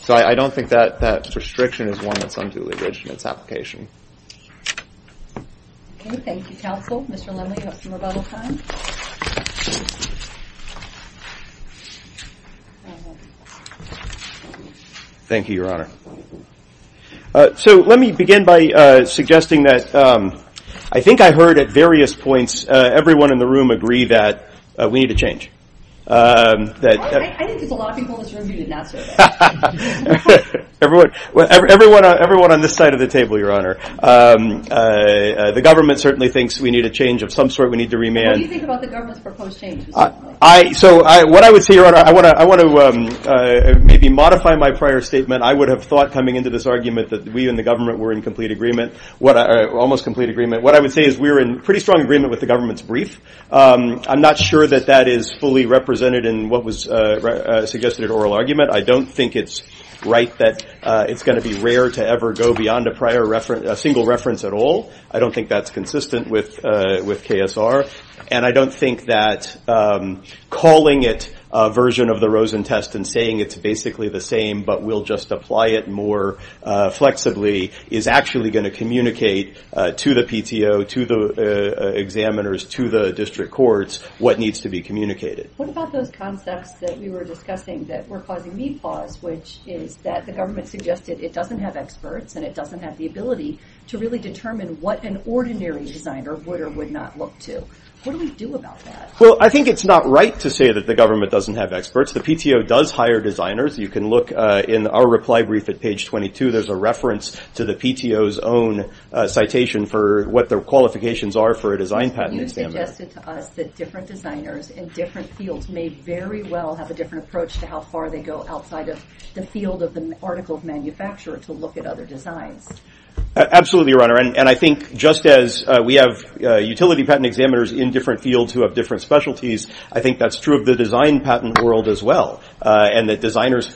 So I don't think that restriction is one that comes with the original application. Okay, thank you, counsel. Mr. Lemley, you have some rebuttal time. Thank you, Your Honor. So let me begin by suggesting that I think I've heard at various points everyone in the room agree that we need to change. I think the biological attorney did not say that. Everyone on this side of the table, Your Honor. The government certainly thinks we need a change of some sort. We need to remand. So what I would say, Your Honor, I want to maybe modify my prior statement. I would have thought coming into this argument that we and the government were in complete agreement, almost complete agreement. What I would say is we were in pretty strong agreement with the government's brief. I'm not sure that that is fully represented in what was suggested in oral argument. I don't think it's right that it's going to be rare to ever go beyond a single reference at all. I don't think that's consistent with KSR. And I don't think that calling it a version of the Rosen test and saying it's basically the same but we'll just apply it more flexibly is actually going to communicate to the PTO, to the examiners, to the district courts what needs to be communicated. What about those concepts that we were discussing that were causing me pause, which is that the government suggested it doesn't have experts and it doesn't have the ability to really determine what an ordinary designer would or would not look to. What do we do about that? Well, I think it's not right to say that the government doesn't have experts. The PTO does hire designers. You can look in our reply brief at page 22. There's a reference to the PTO's own citation for what their qualifications are for a design patent examiner. You suggested to us that different designers in different fields may very well have a different approach of the article of manufacture to look at other designs. Absolutely, Your Honor. I think just as we have utility patent examiners in different fields who have different specialties, I think that's true of the design patent world as well and that design examiners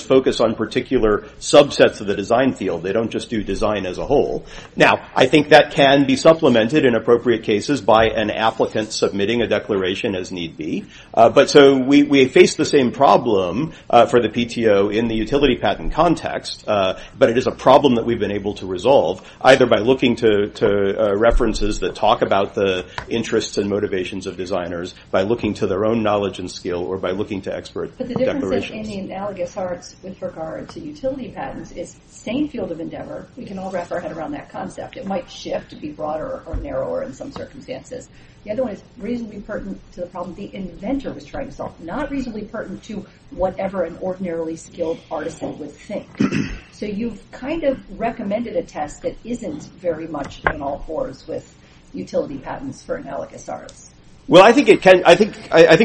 focus on particular subsets of the design field. They don't just do design as a whole. Now, I think that can be supplemented in appropriate cases by an applicant submitting a declaration as need be. We face the same problem for the PTO in the utility patent context, but it is a problem that we've been able to resolve either by looking to references that talk about the interests and motivations of designers, by looking to their own knowledge and skill, or by looking to expert declarations. But the difference in the analogous part with regard to utility patents is same field of endeavor. We can all wrap our head around that concept. It might shift, be broader or narrower in some circumstances. The other one is reasonably pertinent to the problem the inventor was trying to solve, not reasonably pertinent to whatever an ordinarily skilled article would say. So you've kind of recommended a test that isn't very much in all courts with utility patents for analogous art. Well, I think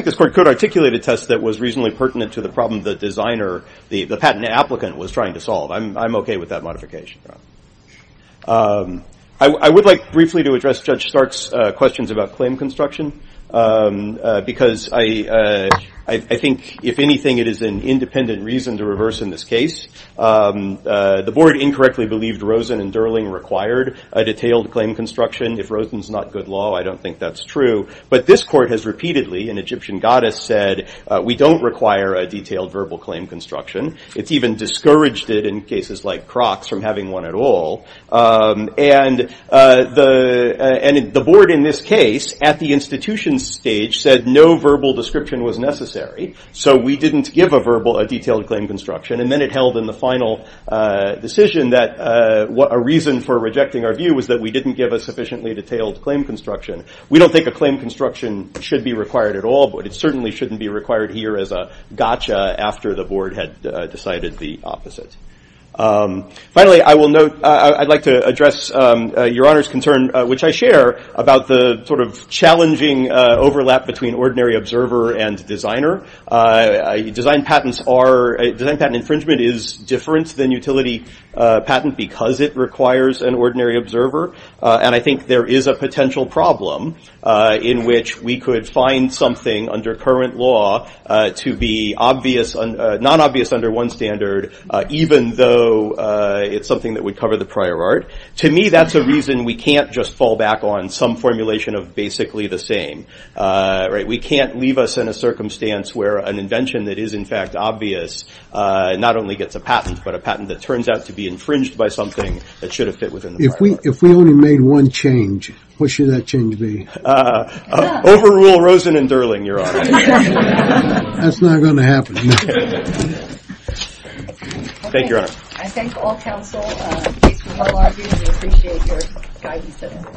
this court could articulate a test that was reasonably pertinent to the problem the designer, the patent applicant, was trying to solve. I'm okay with that modification. I would like briefly to address Judge Stark's questions about claim construction because I think, if anything, it is an independent reason to reverse in this case. The board incorrectly believed Rosen and Durling required a detailed claim construction. If Rosen's not good law, I don't think that's true. But this court has repeatedly, an Egyptian goddess said, we don't require a detailed verbal claim construction. It's even discouraged it in cases like Crocs from having one at all. And the board in this case, at the institution stage, said no verbal description was necessary. So we didn't give a verbal, a detailed claim construction. And then it held in the final decision that a reason for rejecting our view was that we didn't give a sufficiently detailed claim construction. We don't think a claim construction should be required at all, but it certainly shouldn't be required here as a gotcha after the board had decided the opposite. Finally, I would like to address Your Honor's concern, which I share, about the sort of challenging overlap between ordinary observer and designer. Design patents are, design patent infringement is different than utility patent because it requires an ordinary observer. And I think there is a potential problem in which we could find something under current law to be obvious, non-obvious under one standard, even though it's something that would cover the prior art. To me, that's a reason we can't just fall back on some formulation of basically the same. We can't leave us in a circumstance where an invention that is in fact obvious not only gets a patent, but a patent that turns out to be infringed by something that should have fit within the prior law. If we only made one change, what should that change be? Overrule Rosen and Durling, Your Honor. That's not going to happen. Thank you, Your Honor. I thank all counsel. We appreciate your guidance today.